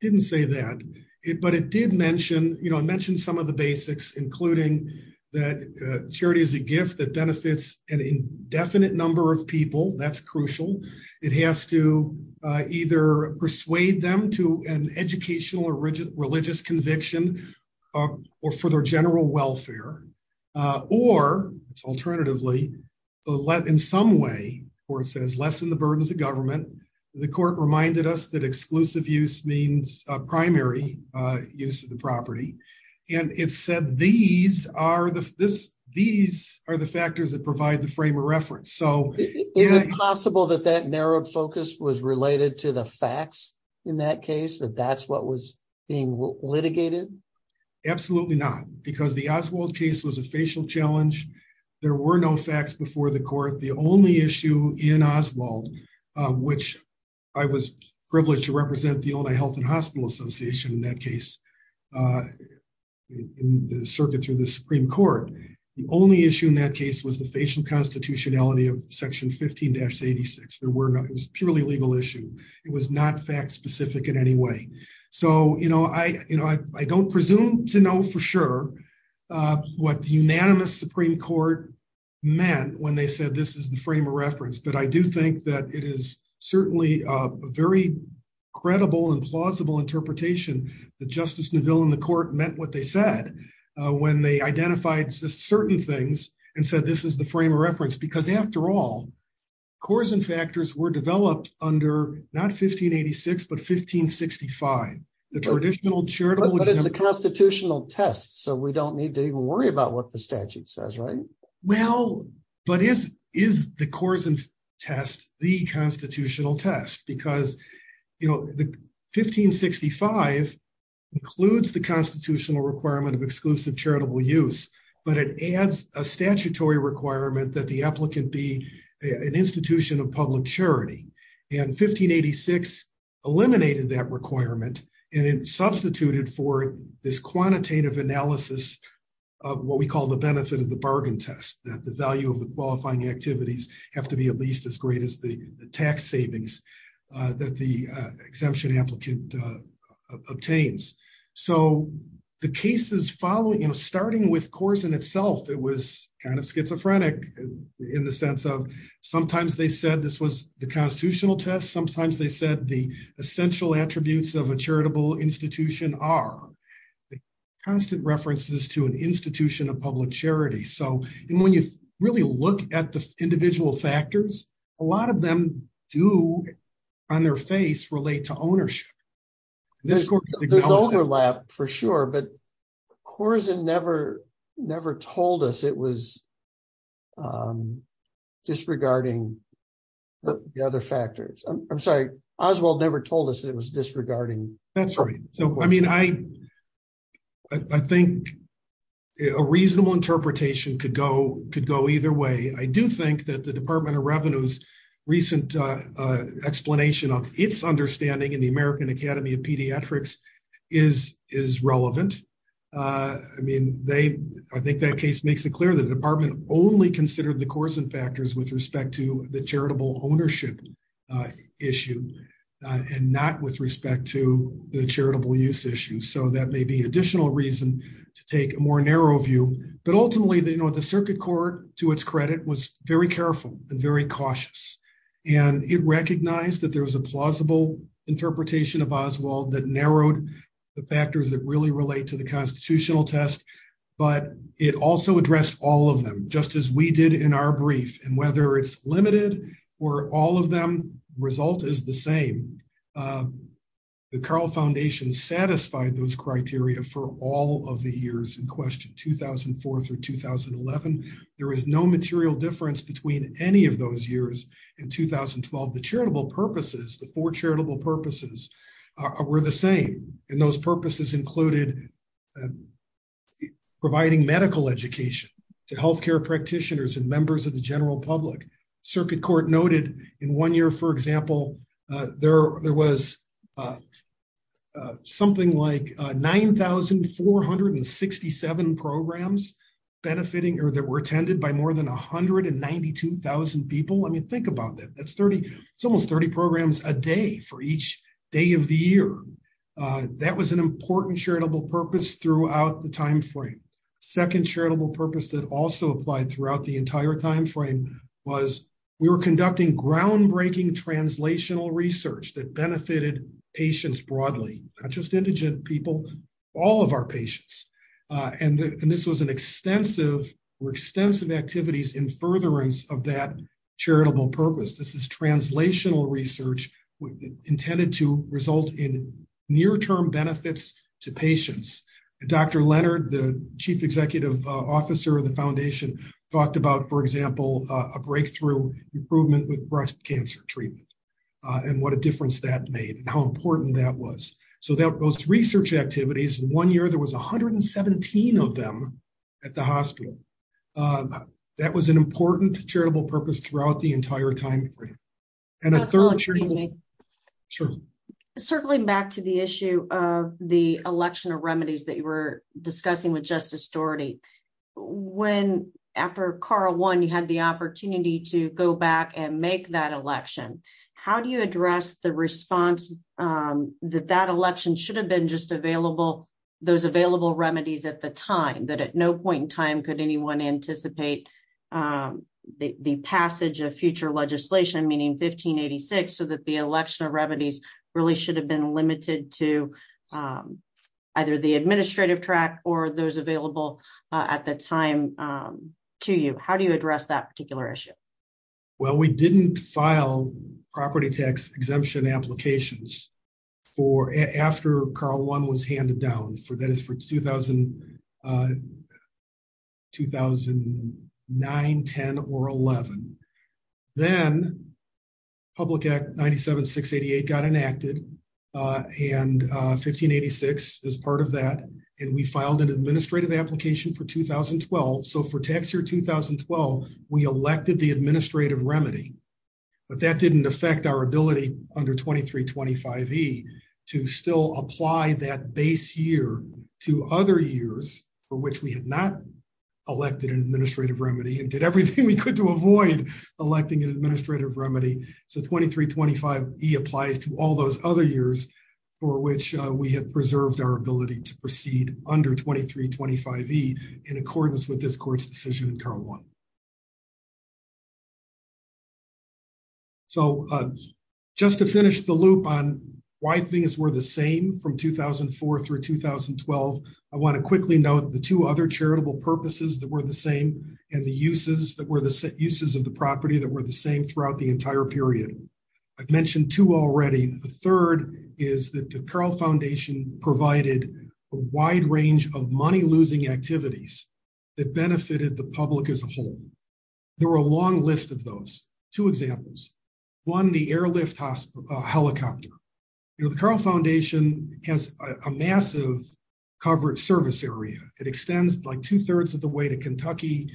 Didn't say that. But it did mention, you know, mention some of the basics, including that charity is a gift that benefits an indefinite number of people. That's crucial. It has to either persuade them to an educational or religious conviction or for their general welfare. Or, alternatively, in some way, the court says, lessen the burdens of government. The court reminded us that exclusive use means primary use of the property. And it said these are the factors that provide the frame of reference. Is it possible that that narrowed focus was related to the facts in that case? That that's what was being litigated? Absolutely not. Because the Oswald case was a facial challenge. There were no facts before the court. The only issue in Oswald, which I was privileged to represent the Ota Health and Hospital Association in that case, in the circuit to the Supreme Court. The only issue in that case was the patient constitutionality of Section 15-86. There were none. It was a purely legal issue. It was not fact specific in any way. So, you know, I don't presume to know for sure what the unanimous Supreme Court meant when they said this is the frame of reference. But I do think that it is certainly a very credible and plausible interpretation that Justice Neville and the court meant what they said. When they identified certain things and said this is the frame of reference. Because, after all, coercion factors were developed under not 15-86, but 15-65. The traditional charitable... But it's the constitutional test, so we don't need to even worry about what the statute says, right? Well, but is the coercion test the constitutional test? Because, you know, 15-65 includes the constitutional requirement of exclusive charitable use, but it adds a statutory requirement that the applicant be an institution of public charity. And 15-86 eliminated that requirement and it substituted for this quantitative analysis of what we call the benefit of the bargain test. That the value of the qualifying activities have to be at least as great as the tax savings that the exemption amplitude obtains. So the cases following, you know, starting with coercion itself, it was kind of schizophrenic in the sense of sometimes they said this was the constitutional test. Sometimes they said the essential attributes of a charitable institution are. Constant references to an institution of public charity. So when you really look at the individual factors, a lot of them do, on their face, relate to ownership. There's overlap for sure, but coercion never told us it was disregarding the other factors. I'm sorry, Oswald never told us it was disregarding. That's right. I mean, I think a reasonable interpretation could go either way. I do think that the Department of Revenue's recent explanation of its understanding in the American Academy of Pediatrics is relevant. I mean, I think that case makes it clear the department only considered the coercion factors with respect to the charitable ownership issue. And not with respect to the charitable use issue. So that may be additional reason to take a more narrow view. But ultimately, the circuit court, to its credit, was very careful and very cautious. And it recognized that there was a plausible interpretation of Oswald that narrowed the factors that really relate to the constitutional test. But it also addressed all of them, just as we did in our brief. And whether it's limited or all of them, the result is the same. The Carle Foundation satisfied those criteria for all of the years in question, 2004 through 2011. There is no material difference between any of those years in 2012. The charitable purposes, the four charitable purposes, were the same. And those purposes included providing medical education to health care practitioners and members of the general public. Circuit court noted in one year, for example, there was something like 9,467 programs benefiting or that were attended by more than 192,000 people. I mean, think about that. That's almost 30 programs a day for each day of the year. That was an important charitable purpose throughout the time frame. The second charitable purpose that also applied throughout the entire time frame was we were conducting groundbreaking translational research that benefited patients broadly. Not just indigent people, all of our patients. And this was an extensive or extensive activities in furtherance of that charitable purpose. This is translational research intended to result in near-term benefits to patients. Dr. Leonard, the chief executive officer of the foundation, talked about, for example, a breakthrough improvement with breast cancer treatment and what a difference that made and how important that was. So those research activities, in one year there was 117 of them at the hospital. That was an important charitable purpose throughout the entire time frame. Certainly, back to the issue of the election of remedies that you were discussing with Justice Doherty. When, after Carl won, you had the opportunity to go back and make that election, how do you address the response that that election should have been just available, those available remedies at the time? That at no point in time could anyone anticipate the passage of future legislation, meaning 1586, so that the election of remedies really should have been limited to either the administrative track or those available at the time to you. How do you address that particular issue? Well, we didn't file property tax exemption applications after Carl won was handed down. So that is for 2009, 10, or 11. Then Public Act 97-688 got enacted, and 1586 is part of that, and we filed an administrative application for 2012. So for tax year 2012, we elected the administrative remedy, but that didn't affect our ability under 2325E to still apply that base year to other years for which we had not elected an administrative remedy and did everything we could to avoid electing an administrative remedy. So 2325E applies to all those other years for which we had preserved our ability to proceed under 2325E in accordance with this court's decision in Carl won. So just to finish the loop on why things were the same from 2004 through 2012, I want to quickly note the two other charitable purposes that were the same and the uses of the property that were the same throughout the entire period. I've mentioned two already. The third is that the Carle Foundation provided a wide range of money-losing activities that benefited the public as a whole. There are a long list of those. Two examples. One, the airlift helicopter. The Carle Foundation has a massive coverage service area. It extends like two-thirds of the way to Kentucky,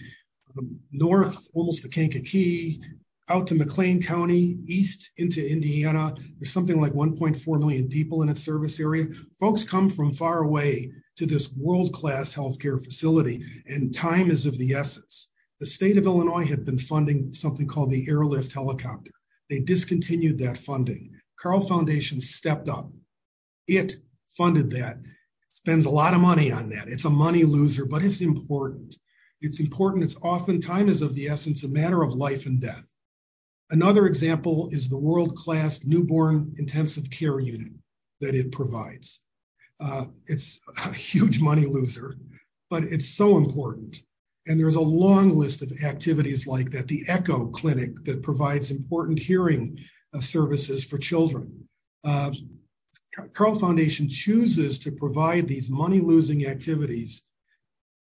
north almost to Kankakee, out to McLean County, east into Indiana. There's something like 1.4 million people in its service area. Folks come from far away to this world-class healthcare facility, and time is of the essence. The state of Illinois had been funding something called the airlift helicopter. They discontinued that funding. Carle Foundation stepped up. It funded that. It spends a lot of money on that. It's a money-loser, but it's important. It's important. It's oftentimes of the essence a matter of life and death. Another example is the world-class newborn intensive care unit that it provides. It's a huge money-loser, but it's so important. And there's a long list of activities like that, the Echo Clinic that provides important hearing services for children. Carle Foundation chooses to provide these money-losing activities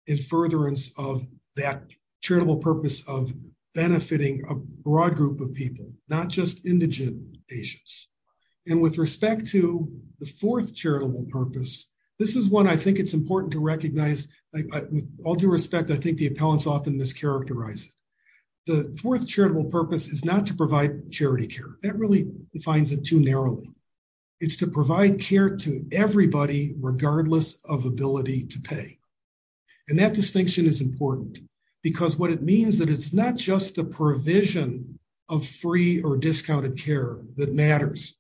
in furtherance of that charitable purpose of benefiting a broad group of people, not just indigent patients. And with respect to the fourth charitable purpose, this is one I think it's important to recognize. With all due respect, I think the appellants often mischaracterize it. The fourth charitable purpose is not to provide charity care. That really defines it too narrowly. It's to provide care to everybody regardless of ability to pay. And that distinction is important because what it means is that it's not just the provision of free or discounted care that matters,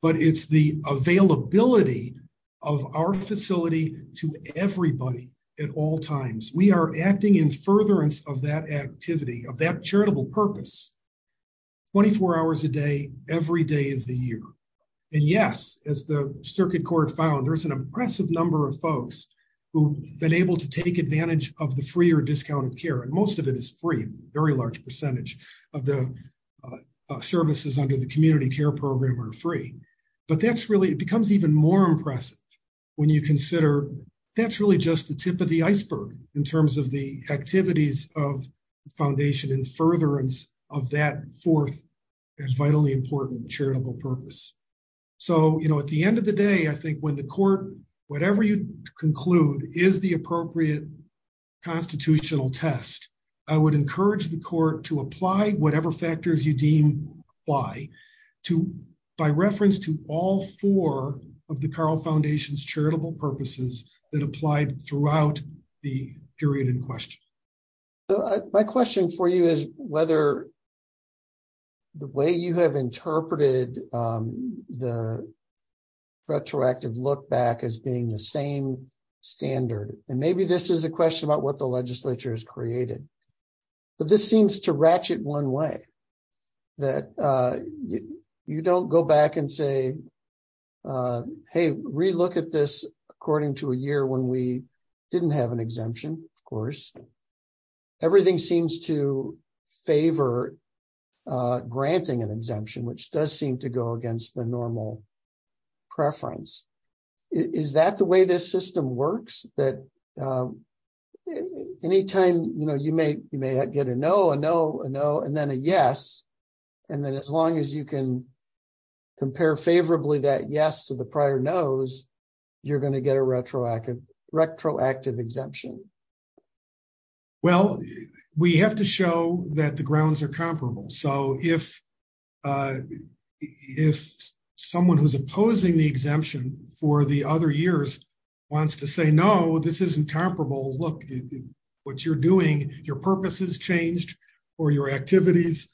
but it's the availability of our facility to everybody at all times. We are acting in furtherance of that activity, of that charitable purpose. 24 hours a day, every day of the year. And yes, as the circuit court found, there's an impressive number of folks who have been able to take advantage of the free or discounted care. And most of it is free. A very large percentage of the services under the community care program are free. But that's really, it becomes even more impressive when you consider that's really just the tip of the iceberg in terms of the activities of the foundation in furtherance of that fourth and vitally important charitable purpose. So, you know, at the end of the day, I think when the court, whatever you conclude, is the appropriate constitutional test, I would encourage the court to apply whatever factors you deem apply. By reference to all four of the Carle Foundation's charitable purposes that applied throughout the period in question. My question for you is whether the way you have interpreted the retroactive look back as being the same standard, and maybe this is a question about what the legislature has created. But this seems to ratchet one way that you don't go back and say, hey, relook at this according to a year when we didn't have an exemption, of course. Everything seems to favor granting an exemption, which does seem to go against the normal preference. Is that the way this system works, that any time you may get a no, a no, a no, and then a yes, and then as long as you can compare favorably that yes to the prior no's, you're going to get a retroactive exemption. Well, we have to show that the grounds are comparable. So if someone who's opposing the exemption for the other years wants to say no, this isn't comparable, look, what you're doing, your purpose has changed, or your activities,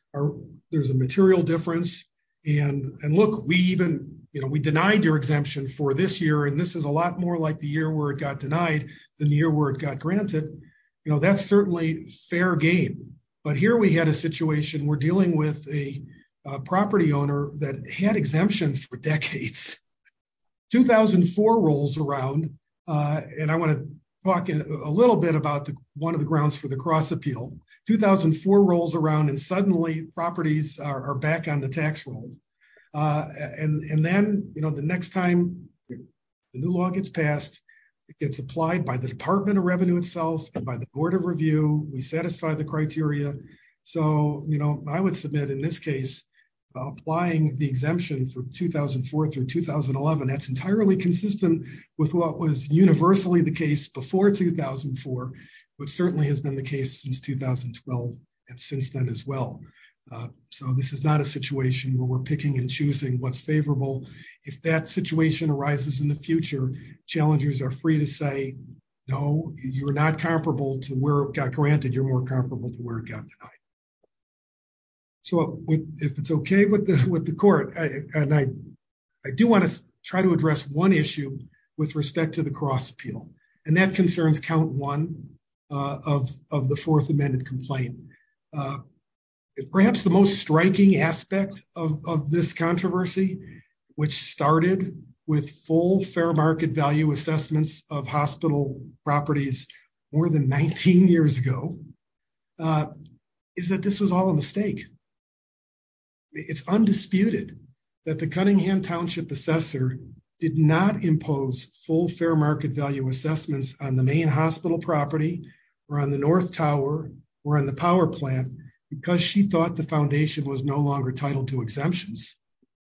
there's a material difference. And look, we denied your exemption for this year, and this is a lot more like the year where it got denied than the year where it got granted. That's certainly fair game. But here we had a situation, we're dealing with a property owner that had exemptions for decades. 2004 rolls around, and I want to talk a little bit about one of the grounds for the cross appeal. 2004 rolls around and suddenly properties are back on the tax roll. And then, you know, the next time the new law gets passed, it gets applied by the Department of Revenue itself and by the Board of Review, we satisfy the criteria. So, you know, I would submit in this case, applying the exemption for 2004 through 2011, that's entirely consistent with what was universally the case before 2004, but certainly has been the case since 2012 and since then as well. So this is not a situation where we're picking and choosing what's favorable. If that situation arises in the future, challengers are free to say, no, you're not comparable to where it got granted, you're more comparable to where it got denied. So if it's okay with the court, and I do want to try to address one issue with respect to the cross appeal, and that concerns count one of the fourth amended complaint. Perhaps the most striking aspect of this controversy, which started with full fair market value assessments of hospital properties more than 19 years ago, is that this was all a mistake. It's undisputed that the Cunningham Township Assessor did not impose full fair market value assessments on the main hospital property, or on the North Tower, or on the power plant, because she thought the foundation was no longer titled to exemptions,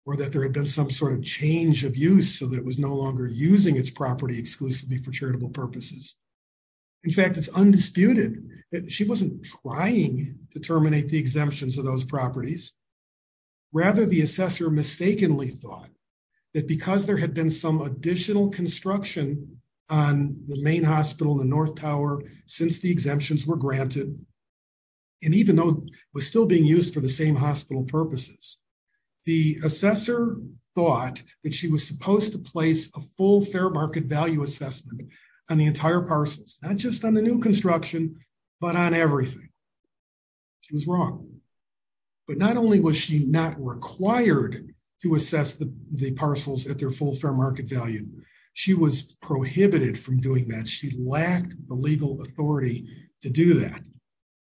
or that there had been some sort of change of use so that it was no longer using its property exclusively for charitable purposes. In fact, it's undisputed that she wasn't trying to terminate the exemptions of those properties. Rather, the assessor mistakenly thought that because there had been some additional construction on the main hospital, the North Tower, since the exemptions were granted, and even though it was still being used for the same hospital purposes, the assessor thought that she was supposed to place a full fair market value assessment on the entire parcels, not just on the new construction, but on everything. She was wrong. But not only was she not required to assess the parcels at their full fair market value, she was prohibited from doing that. She lacked the legal authority to do that.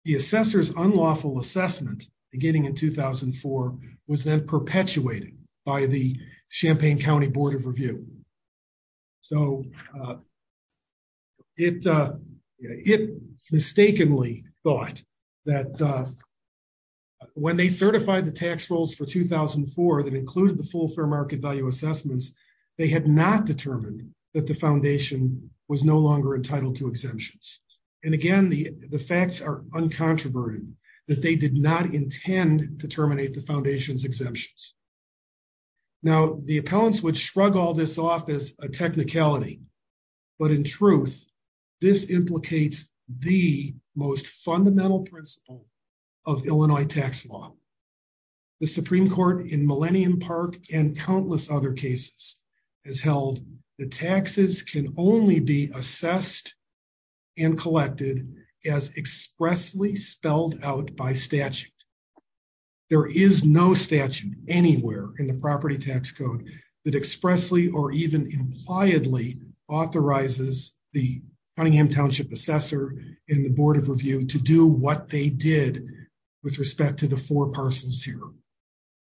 The assessor's unlawful assessment, beginning in 2004, was then perpetuated by the Champaign County Board of Review. So, it mistakenly thought that when they certified the tax rolls for 2004 that included the full fair market value assessments, they had not determined that the foundation was no longer entitled to exemptions. And again, the facts are uncontroverted that they did not intend to terminate the foundation's exemptions. Now, the appellants would shrug all this off as a technicality, but in truth, this implicates the most fundamental principle of Illinois tax law. The Supreme Court in Millennium Park and countless other cases has held that taxes can only be assessed and collected as expressly spelled out by statute. There is no statute anywhere in the property tax code that expressly or even impliedly authorizes the Cunningham Township assessor and the Board of Review to do what they did with respect to the four parcels here.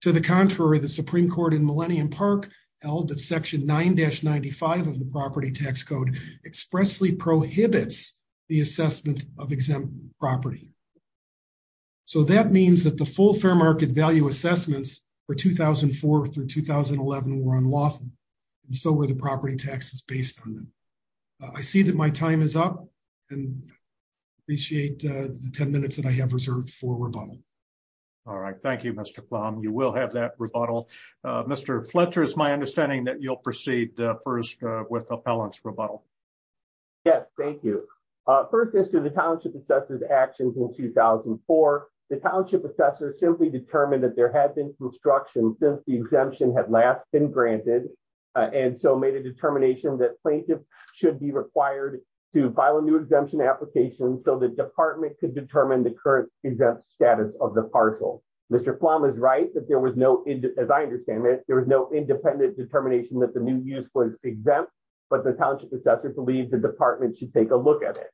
To the contrary, the Supreme Court in Millennium Park held that Section 9-95 of the property tax code expressly prohibits the assessment of exempt property. So, that means that the full fair market value assessments for 2004 through 2011 were unlawful, and so were the property taxes based on them. I see that my time is up and appreciate the 10 minutes that I have reserved for rebuttal. All right. Thank you, Mr. Plum. You will have that rebuttal. Mr. Fletcher, it's my understanding that you'll proceed first with the appellant's rebuttal. Yes, thank you. First, as to the Township assessor's actions in 2004, the Township assessor simply determined that there had been construction since the exemption had not been granted, and so made a determination that plaintiffs should be required to file a new exemption application so the department could determine the current exempt status of the parcel. Mr. Plum is right that there was no, as I understand it, there was no independent determination that the new use was exempt, but the Township assessor believed the department should take a look at it.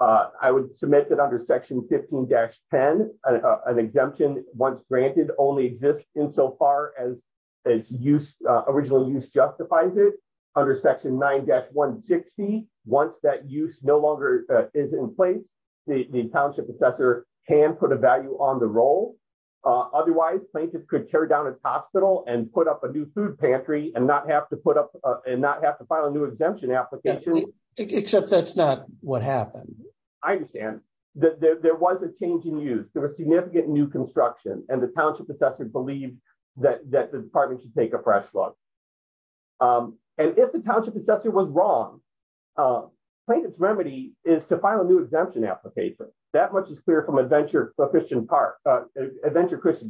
I would submit that under Section 15-10, an exemption, once granted, only exists insofar as original use justifies it. Under Section 9-160, once that use no longer is in place, the Township assessor can put a value on the role. Otherwise, plaintiffs could tear down a hospital and put up a new food pantry and not have to file a new exemption application. Except that's not what happened. I understand. There was a change in use. There was significant new construction, and the Township assessor believed that the department should take a fresh look. And if the Township assessor was wrong, plaintiff's remedy is to file a new exemption application. That much is clear from Adventure Christian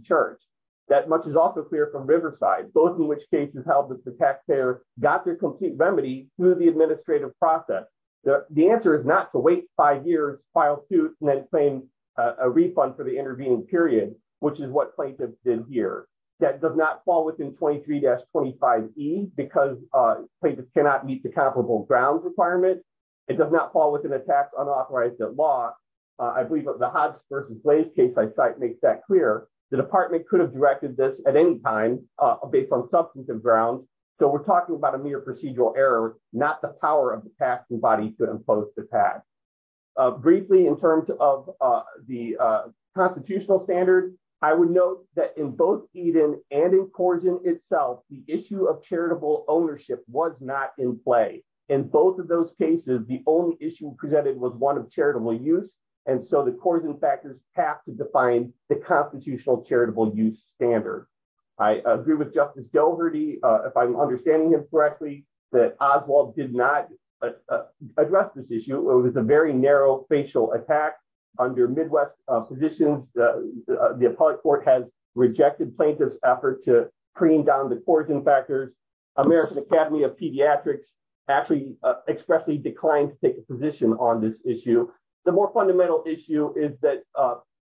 Church. That much is also clear from Riverside, both in which cases held that the taxpayer got their complete remedy through the administrative process. The answer is not to wait five years, file suit, and then claim a refund for the intervening period, which is what plaintiffs did here. That does not fall within 23-25E because plaintiffs cannot meet the comparable grounds requirement. It does not fall within a tax unauthorized at law. I believe the Hobbs v. Slade case I cite makes that clear. The department could have directed this at any time based on substantive grounds. So we're talking about a mere procedural error, not the power of the taxing body to impose the tax. Briefly, in terms of the constitutional standard, I would note that in both Eden and in Corrigan itself, the issue of charitable ownership was not in play. In both of those cases, the only issue presented was one of charitable use, and so the Corrigan factors have to define the constitutional charitable use standard. I agree with Justice Doherty, if I'm understanding this correctly, that Oswald did not address this issue. It was a very narrow facial attack under Midwest positions. The appellate court has rejected plaintiffs' effort to cream down the Corrigan factors. American Academy of Pediatrics actually expressly declined to take a position on this issue. The more fundamental issue is that,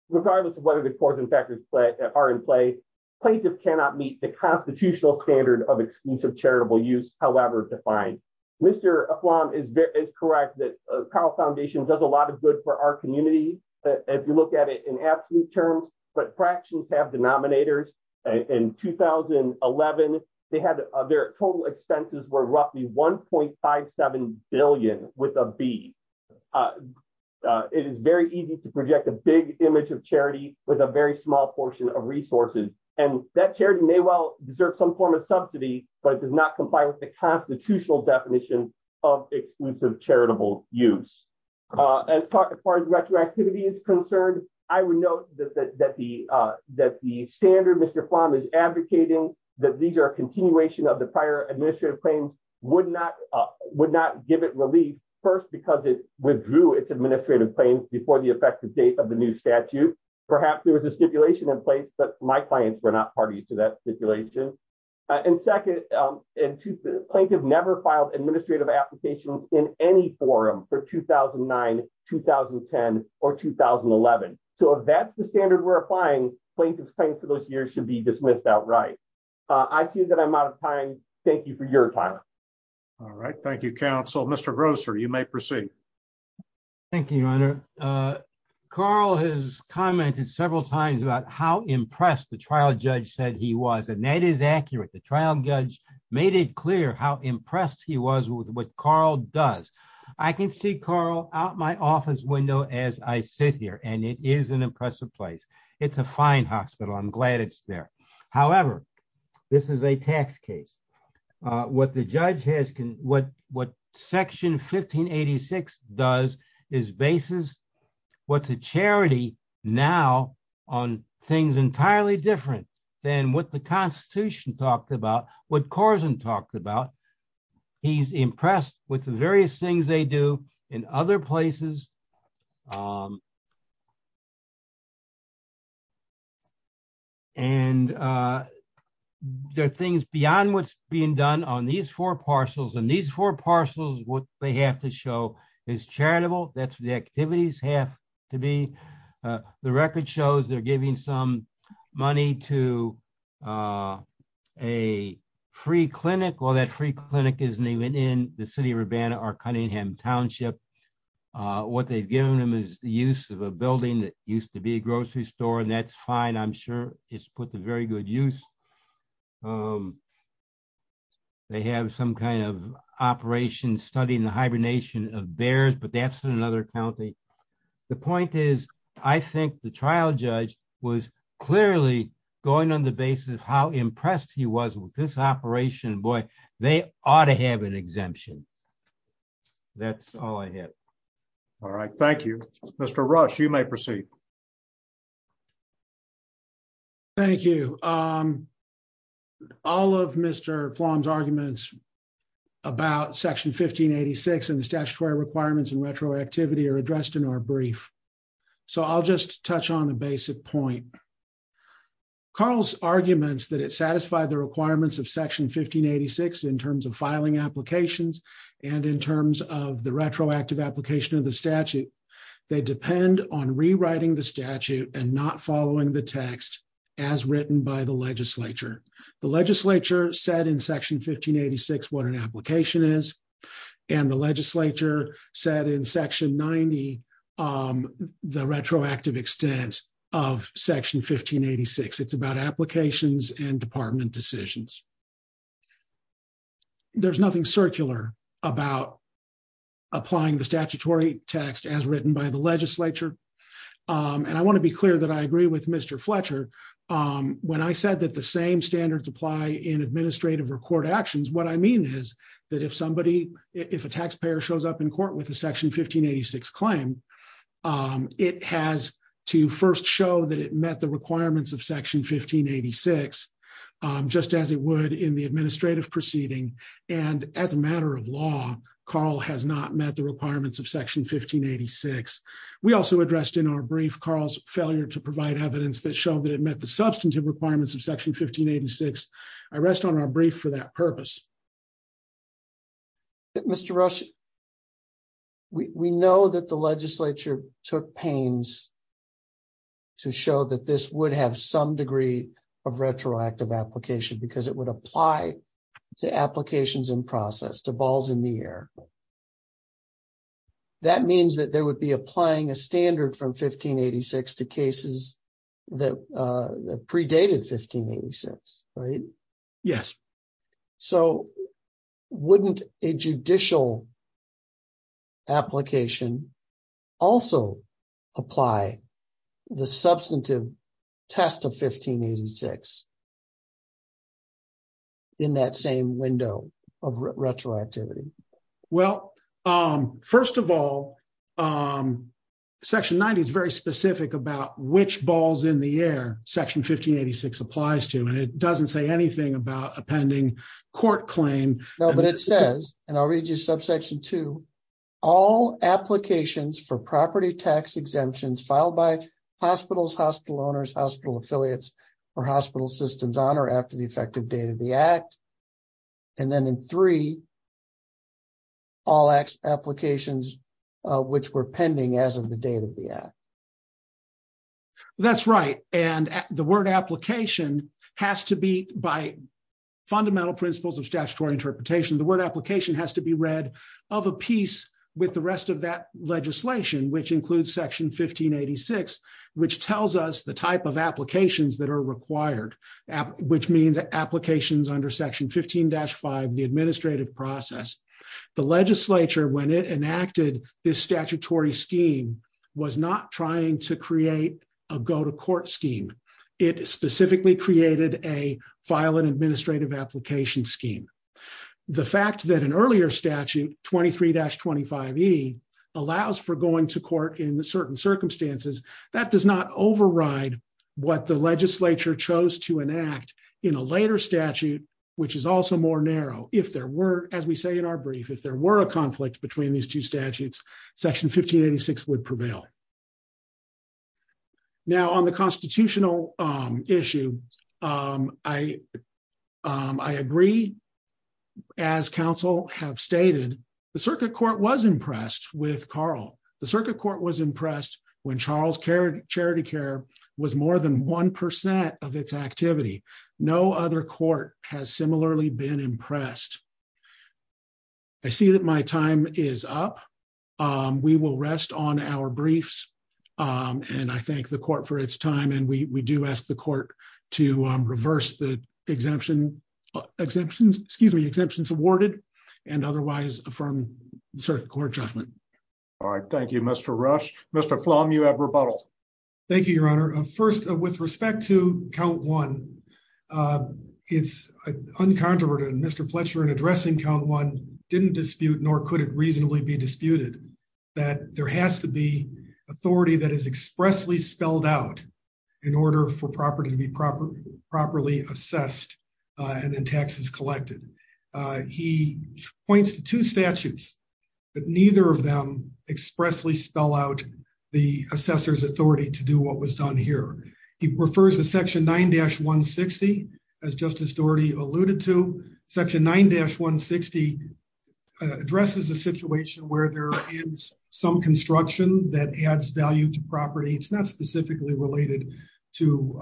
regardless of whether the Corrigan factors are in play, plaintiffs cannot meet the constitutional standard of exclusive charitable use, however defined. Mr. Afflon is correct that the Powell Foundation does a lot of good for our community, if you look at it in absolute terms, but fractions have denominators. In 2011, their total expenses were roughly $1.57 billion, with a B. It is very easy to project a big image of charity with a very small portion of resources, and that charity may well deserve some form of subsidy, but it does not comply with the constitutional definition of exclusive charitable use. As far as retroactivity is concerned, I would note that the standard Mr. Afflon is advocating, that these are a continuation of the prior administrative claims, would not give it relief, first because it withdrew its administrative claims before the effective date of the new statute. Perhaps there was a stipulation in place, but my clients were not party to that stipulation. And second, plaintiffs never filed administrative applications in any forum for 2009, 2010, or 2011. So if that's the standard we're applying, plaintiffs' claims for those years should be dismissed outright. I feel that I'm out of time. Thank you for your time. All right. Thank you, counsel. Mr. Grosser, you may proceed. Thank you, Your Honor. Carl has commented several times about how impressed the trial judge said he was, and that is accurate. The trial judge made it clear how impressed he was with what Carl does. I can see Carl out my office window as I sit here, and it is an impressive place. It's a fine hospital. I'm glad it's there. However, this is a tax case. What the judge has, what Section 1586 does is bases what's a charity now on things entirely different than what the Constitution talked about, what Corzine talked about. He's impressed with the various things they do in other places. And there are things beyond what's being done on these four parcels, and these four parcels, what they have to show is charitable. That's what the activities have to be. The record shows they're giving some money to a free clinic. Well, that free clinic is named in the city of Urbana or Cunningham Township. What they've given them is the use of a building that used to be a grocery store, and that's fine. I'm sure it's put to very good use. They have some kind of operation studying the hibernation of bears, but that's in another county. The point is, I think the trial judge was clearly going on the basis of how impressed he was with this operation. Boy, they ought to have an exemption. That's all I had. All right. Thank you, Mr. Rush. You may proceed. Thank you. All of Mr. Kwan's arguments about Section 1586 and the statutory requirements and retroactivity are addressed in our brief. So I'll just touch on a basic point. Carl's arguments that it satisfied the requirements of Section 1586 in terms of filing applications and in terms of the retroactive application of the statute, they depend on rewriting the statute and not following the text as written by the legislature. The legislature said in Section 1586 what an application is, and the legislature said in Section 90 the retroactive extent of Section 1586. It's about applications and department decisions. There's nothing circular about applying the statutory text as written by the legislature. And I want to be clear that I agree with Mr. Fletcher. When I said that the same standards apply in administrative or court actions, what I mean is that if a taxpayer shows up in court with a Section 1586 claim, it has to first show that it met the requirements of Section 1586, just as it would in the administrative proceeding. And as a matter of law, Carl has not met the requirements of Section 1586. We also addressed in our brief Carl's failure to provide evidence that showed that it met the substantive requirements of Section 1586. I rest on our brief for that purpose. Mr. Rush, we know that the legislature took pains to show that this would have some degree of retroactive application because it would apply to applications in process, to balls in the air. That means that they would be applying a standard from 1586 to cases that predated 1586, right? Yes. So wouldn't a judicial application also apply the substantive test of 1586 in that same window of retroactivity? Well, first of all, Section 90 is very specific about which balls in the air Section 1586 applies to, and it doesn't say anything about a pending court claim. No, but it says, and I'll read you subsection 2, all applications for property tax exemptions filed by hospitals, hospital owners, hospital affiliates, or hospital systems on or after the effective date of the act. And then in 3, all applications which were pending as of the date of the act. That's right. And the word application has to be, by fundamental principles of statutory interpretation, the word application has to be read of a piece with the rest of that legislation, which includes Section 1586, which tells us the type of applications that are required, which means applications under Section 15-5, the administrative process. The legislature, when it enacted this statutory scheme, was not trying to create a go-to-court scheme. It specifically created a file an administrative application scheme. The fact that an earlier statute, 23-25E, allows for going to court in certain circumstances, that does not override what the legislature chose to enact in a later statute, which is also more narrow. If there were, as we say in our brief, if there were a conflict between these two statutes, Section 1586 would prevail. Now, on the constitutional issue, I agree, as counsel have stated, the circuit court was impressed with Carl. The circuit court was impressed when Charles Charity Care was more than 1% of its activity. No other court has similarly been impressed. I see that my time is up. We will rest on our briefs. I thank the court for its time. We do ask the court to reverse the exemptions awarded and otherwise affirm circuit court judgment. All right. Thank you, Mr. Rush. Mr. Plum, you have rebuttal. Thank you, Your Honor. First, with respect to Count 1, it's uncontroverted. Mr. Fletcher, in addressing Count 1, didn't dispute nor could it reasonably be disputed that there has to be authority that is expressly spelled out in order for property to be properly assessed and then taxes collected. He points to two statutes, but neither of them expressly spell out the assessor's authority to do what was done here. He refers to Section 9-160, as Justice Doherty alluded to. Section 9-160 addresses the situation where there is some construction that adds value to property. It's not specifically related to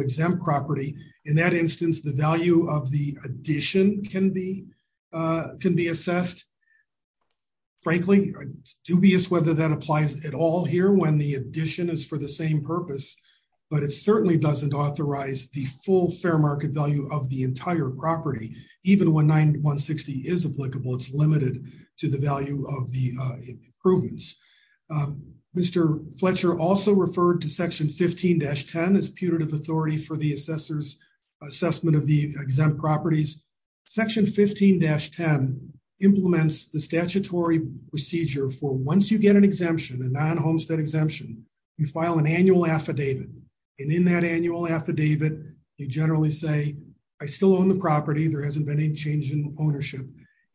exempt property. In that instance, the value of the addition can be assessed. Frankly, I'm dubious whether that applies at all here when the addition is for the same purpose, but it certainly doesn't authorize the full fair market value of the entire property. Even when 9-160 is applicable, it's limited to the value of the improvements. Mr. Fletcher also referred to Section 15-10 as putative authority for the assessor's assessment of the exempt properties. Section 15-10 implements the statutory procedure for once you get an exemption, a non-homestead exemption, you file an annual affidavit. In that annual affidavit, you generally say, I still own the property. There hasn't been any change in ownership,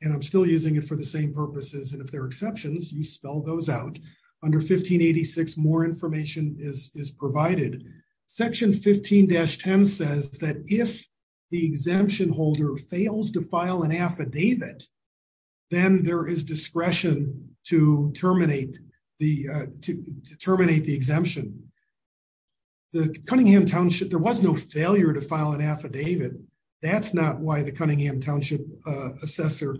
and I'm still using it for the same purposes. If there are exceptions, you spell those out. Under 1586, more information is provided. Section 15-10 says that if the exemption holder fails to file an affidavit, then there is discretion to terminate the exemption. The Cunningham Township, there was no failure to file an affidavit. That's not why the Cunningham Township assessor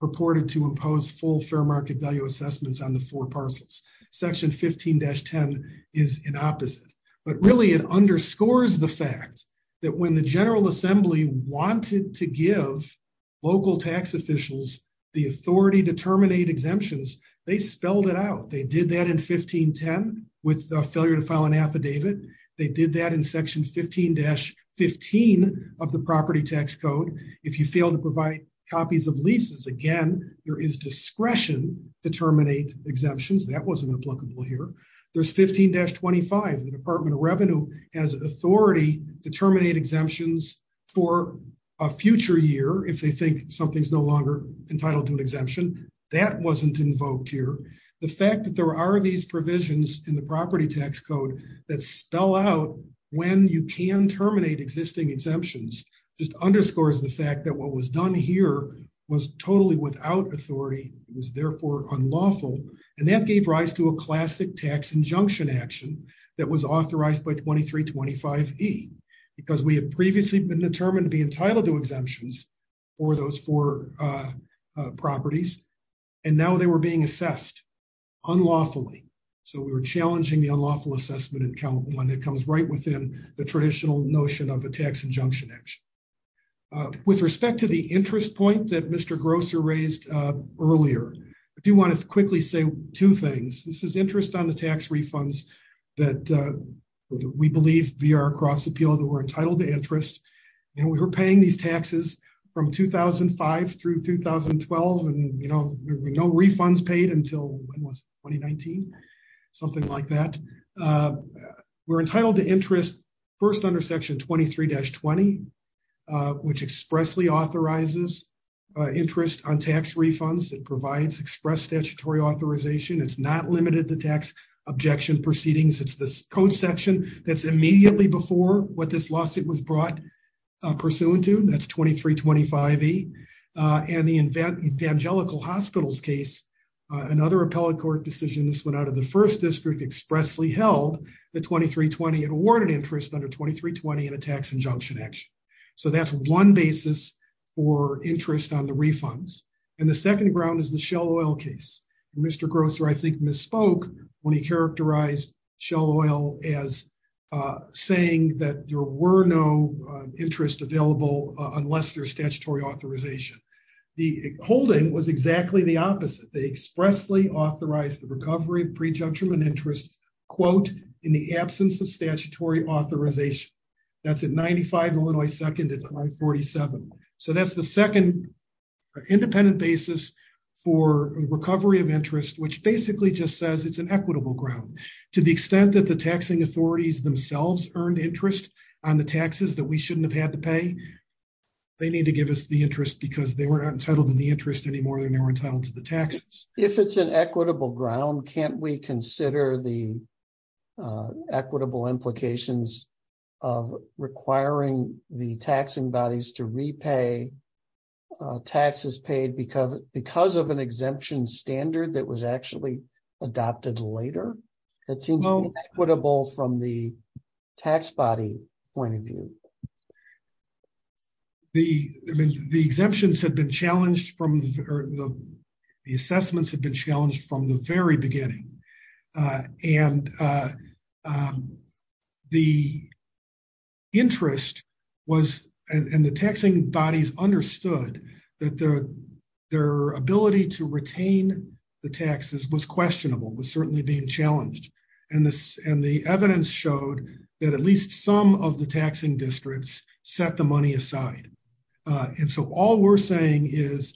purported to impose full fair market value assessments on the four parcels. Section 15-10 is an opposite. But really, it underscores the fact that when the General Assembly wanted to give local tax officials the authority to terminate exemptions, they spelled it out. They did that in 15-10 with the failure to file an affidavit. They did that in Section 15-15 of the Property Tax Code. If you fail to provide copies of leases, again, there is discretion to terminate exemptions. That wasn't applicable here. There's 15-25. The Department of Revenue has authority to terminate exemptions for a future year if they think something's no longer entitled to an exemption. That wasn't invoked here. The fact that there are these provisions in the Property Tax Code that spell out when you can terminate existing exemptions just underscores the fact that what was done here was totally without authority. It was, therefore, unlawful. And that gave rise to a classic tax injunction action that was authorized by 2325E because we had previously been determined to be entitled to exemptions for those four properties. And now they were being assessed unlawfully. So we were challenging the unlawful assessment and that comes right within the traditional notion of a tax injunction action. With respect to the interest point that Mr. Grosser raised earlier, I do want to quickly say two things. This is interest on the tax refunds that we believe, via our cross-appeal, that we're entitled to interest. And we were paying these taxes from 2005 through 2012 and we had no refunds paid until, what was it, 2019? Something like that. We're entitled to interest first under Section 23-20, which expressly authorizes interest on tax refunds. It provides express statutory authorization. It's not limited to tax objection proceedings. It's the code section that's immediately before what this lawsuit was brought pursuant to. That's 2325E. And the Evangelical Hospitals case, another appellate court decision, this went out of the first district, expressly held the 23-20 and awarded interest under 23-20 in a tax injunction action. So that's one basis for interest on the refunds. And the second ground is the Shell Oil case. Mr. Grosser, I think, misspoke when he characterized Shell Oil as saying that there were no interests available unless there's statutory authorization. The holding was exactly the opposite. They expressly authorized the recovery of pre-judgmental interest, quote, in the absence of statutory authorization. That's at 95 Illinois 2nd and I-47. So that's the second independent basis for recovery of interest, which basically just says it's an equitable ground. To the extent that the taxing authorities themselves earned interest on the taxes that we shouldn't have had to pay, they need to give us the interest because they were not entitled to the interest anymore than they were entitled to the taxes. If it's an equitable ground, can't we consider the equitable implications of requiring the taxing bodies to repay taxes paid because of an exemption standard that was actually adopted later? Equitable from the tax body point of view. The exemptions have been challenged from the assessments have been challenged from the very beginning. And the interest was, and the taxing bodies understood that their ability to retain the taxes was questionable, was certainly being challenged. And the evidence showed that at least some of the taxing districts set the money aside. And so all we're saying is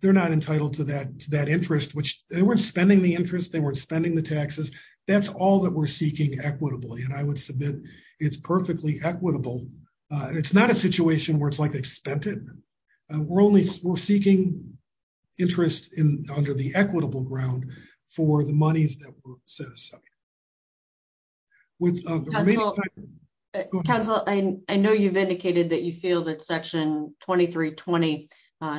they're not entitled to that interest, which they weren't spending the interest. They weren't spending the taxes. That's all that we're seeking equitably. And I would submit it's perfectly equitable. It's not a situation where it's, like, expended. We're seeking interest under the equitable ground for the monies that were set aside. Councilor, I know you've indicated that you feel that Section 2320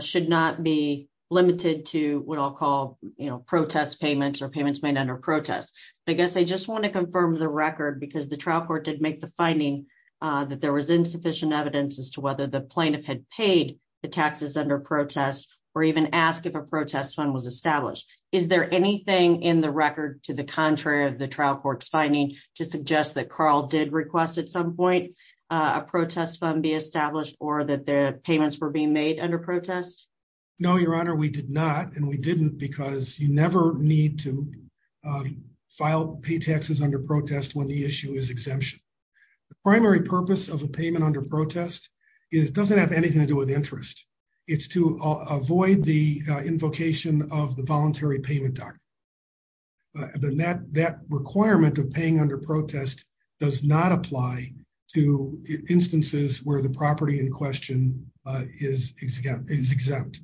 should not be limited to what I'll call protest payments or payments made under protest. I guess I just want to confirm the record because the trial court did make the finding that there was insufficient evidence as to whether the plaintiff had paid the taxes under protest or even ask if a protest fund was established. Is there anything in the record to the contrary of the trial court's finding to suggest that Carl did request at some point a protest fund be established or that the payments were being made under protest? No, Your Honor, we did not, and we didn't because you never need to file pay taxes under protest when the issue is exemption. The primary purpose of a payment under protest doesn't have anything to do with interest. It's to avoid the invocation of the Voluntary Payment Doctrine. That requirement of paying under protest does not apply to instances where the property in question is exempt.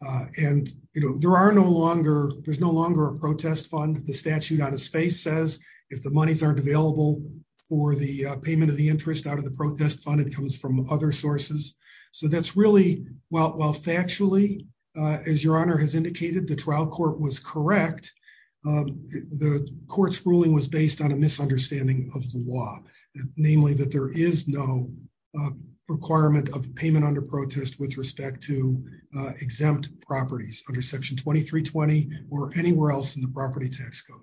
And, you know, there's no longer a protest fund. The statute out of space says if the monies aren't available for the payment of the interest out of the protest fund, it comes from other sources. So that's really, well, factually, as Your Honor has indicated, the trial court was correct. The court's ruling was based on a misunderstanding of the law, namely that there is no requirement of payment under protest with respect to exempt properties under Section 2320 or anywhere else in the property tax code.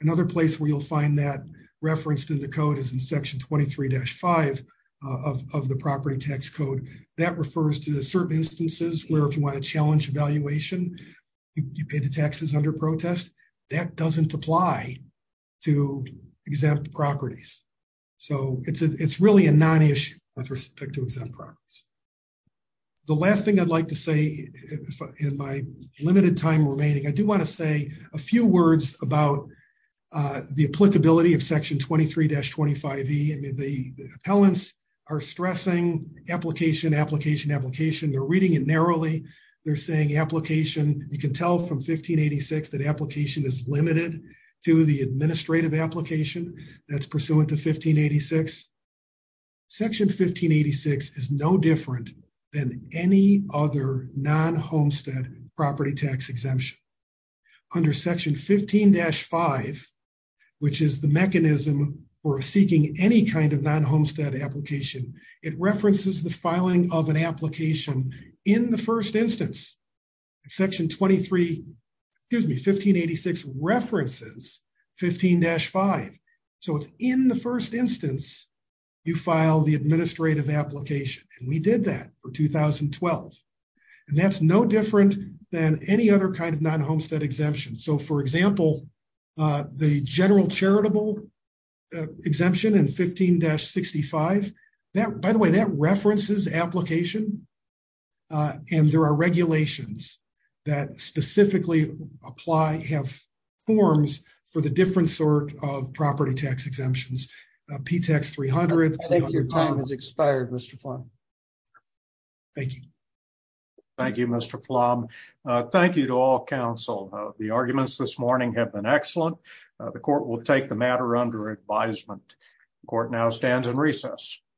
Another place where you'll find that referenced in the code is in Section 23-5 of the property tax code. That refers to certain instances where if you want to challenge evaluation, you pay the taxes under protest. That doesn't apply to exempt properties. So it's really a non-issue with respect to exempt properties. The last thing I'd like to say in my limited time remaining, I do want to say a few words about the applicability of Section 23-25e. The appellants are stressing application, application, application. They're reading it narrowly. They're saying application. You can tell from 1586 that application is limited to the administrative application that's pursuant to 1586. Section 1586 is no different than any other non-homestead property tax exemption. Under Section 15-5, which is the mechanism for seeking any kind of non-homestead application, it references the filing of an application in the first instance. Section 1586 references 15-5. So it's in the first instance you file the administrative application, and we did that for 2012. And that's no different than any other kind of non-homestead exemption. So, for example, the general charitable exemption in 15-65, by the way, that references application, and there are regulations that specifically apply, have forms for the different sort of property tax exemptions. P-Tax 300. I think your time has expired, Mr. Plumb. Thank you. Thank you, Mr. Plumb. Thank you to all counsel. The arguments this morning have been excellent. The court will take the matter under advisement. The court now stands in recess.